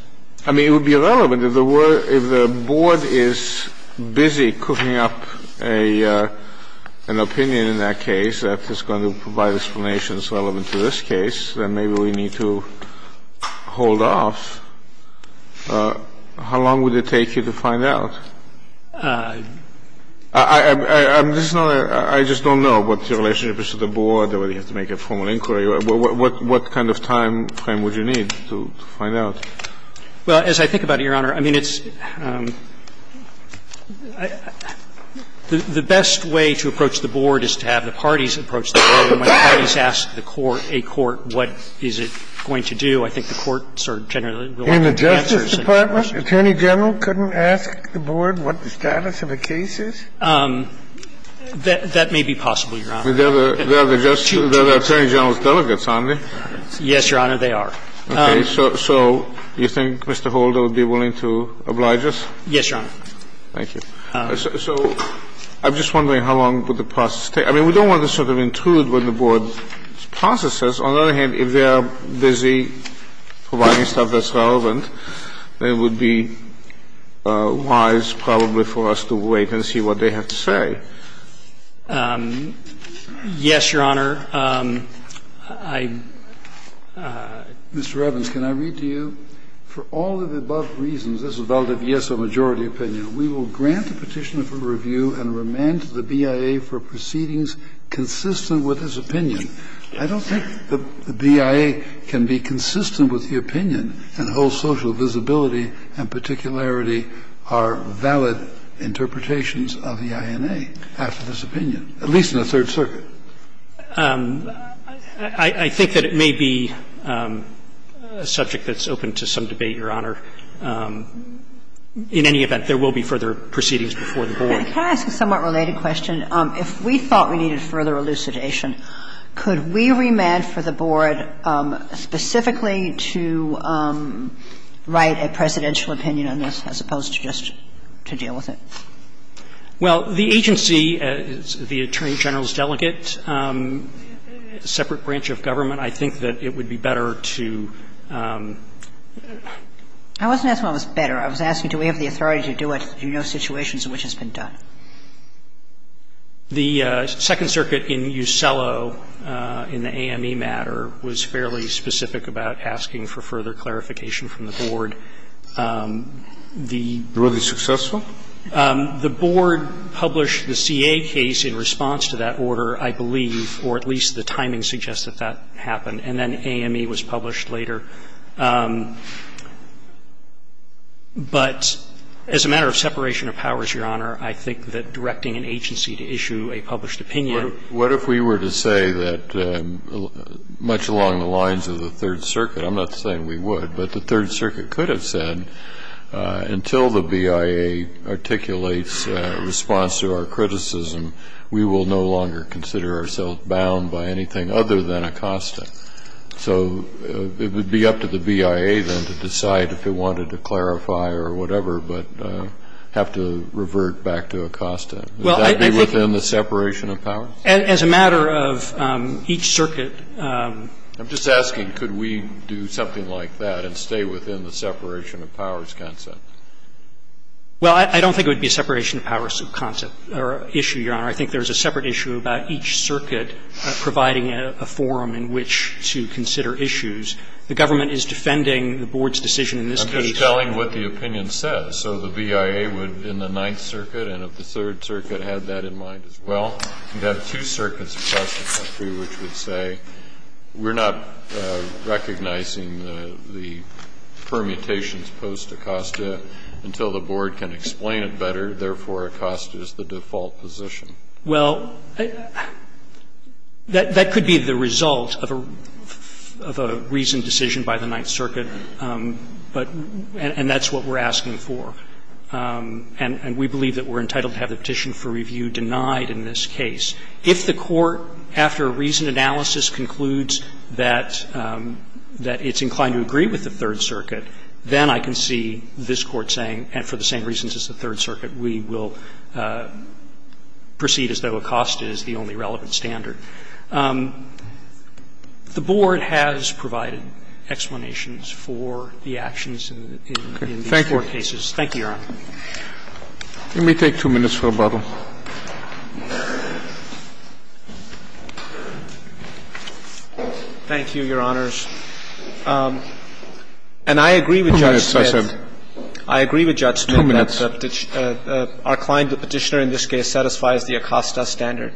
I mean, it would be relevant. If the Board is busy cooking up an opinion in that case that is going to provide explanations relevant to this case, then maybe we need to hold off. How long would it take you to find out? I'm just not going to – I just don't know what your relationship is to the Board or whether you have to make a formal inquiry. What kind of time frame would you need to find out? Well, as I think about it, Your Honor, I mean, it's – the best way to approach the Board is to have the parties approach the Board. And when the parties ask the court, a court, what is it going to do, I think the courts are generally going to want answers. And the Justice Department, Attorney General, couldn't ask the Board what the status of the case is? That may be possible, Your Honor. They're the Attorney General's delegates, aren't they? Yes, Your Honor, they are. Okay. So you think Mr. Holder would be willing to oblige us? Yes, Your Honor. Thank you. So I'm just wondering how long would the process take? I mean, we don't want to sort of intrude when the Board processes. On the other hand, if they are busy providing stuff that's relevant, then it would be wise probably for us to wait and see what they have to say. Yes, Your Honor, I – Mr. Evans, can I read to you? For all of the above reasons, this is a valid yes or majority opinion, we will grant the Petitioner for review and remand to the BIA for proceedings consistent with his opinion. I don't think the BIA can be consistent with the opinion and hold social visibility and particularity are valid interpretations of the INA after this opinion, at least in the Third Circuit. I think that it may be a subject that's open to some debate, Your Honor. In any event, there will be further proceedings before the Board. Can I ask a somewhat related question? If we thought we needed further elucidation, could we remand for the Board specifically to write a presidential opinion on this as opposed to just to deal with it? Well, the agency, the Attorney General's delegate, separate branch of government, I think that it would be better to – I wasn't asking what was better. I was asking do we have the authority to do it. Do you know situations in which it's been done? The Second Circuit in Ucello, in the AME matter, was fairly specific about asking for further clarification from the Board. The Board published the CA case in response to that order, I believe, or at least the timing suggests that that happened, and then AME was published later. But as a matter of separation of powers, Your Honor, I think that directing an agency to issue a published opinion – What if we were to say that much along the lines of the Third Circuit, I'm not saying we would, but the Third Circuit could have said until the BIA articulates a response to our criticism, we will no longer consider ourselves bound by anything other than a constant. So it would be up to the BIA, then, to decide if it wanted to clarify or whatever, but have to revert back to a constant. Would that be within the separation of powers? As a matter of each circuit – I'm just asking could we do something like that and stay within the separation of powers concept? Well, I don't think it would be a separation of powers concept or issue, Your Honor. I think there's a separate issue about each circuit providing a forum in which to consider issues. The government is defending the Board's decision in this case. I'm just telling what the opinion says. So the BIA would, in the Ninth Circuit and of the Third Circuit, have that in mind as well. You'd have two circuits across the country which would say we're not recognizing the permutations post Acosta until the Board can explain it better, therefore Acosta is the default position. Well, that could be the result of a reasoned decision by the Ninth Circuit, but – and that's what we're asking for. And we believe that we're entitled to have the Petition for Review denied in this case. If the Court, after a reasoned analysis, concludes that it's inclined to agree with the Third Circuit, then I can see this Court saying, and for the same reasons as the Third Circuit, we will proceed as though Acosta is the only relevant standard. The Board has provided explanations for the actions in these four cases. Thank you, Your Honor. Let me take two minutes for rebuttal. Thank you, Your Honors. And I agree with Judge Smith. Two minutes, I said. I agree with Judge Smith. Two minutes. Our client, the Petitioner, in this case, satisfies the Acosta standard.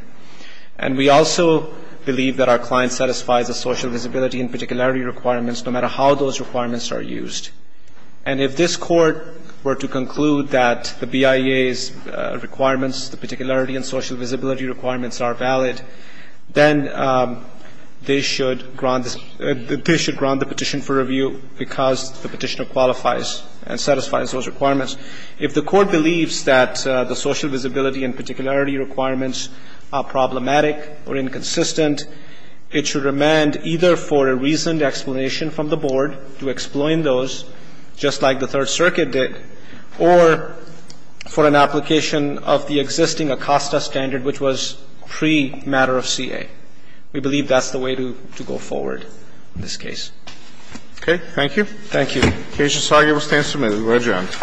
And we also believe that our client satisfies the social visibility and particularity requirements, no matter how those requirements are used. And if this Court were to conclude that the BIA's requirements, the particularity and social visibility requirements are valid, then they should grant this – they should grant the Petition for Review because the Petitioner qualifies and satisfies those requirements. If the Court believes that the social visibility and particularity requirements are problematic or inconsistent, it should remand either for a reasoned explanation from the Board to explain those, just like the Third Circuit did, or for an application of the existing Acosta standard, which was pre-matter of CA. We believe that's the way to go forward in this case. Okay. Thank you. Thank you. Thank you. Okay. Just give us 10 minutes.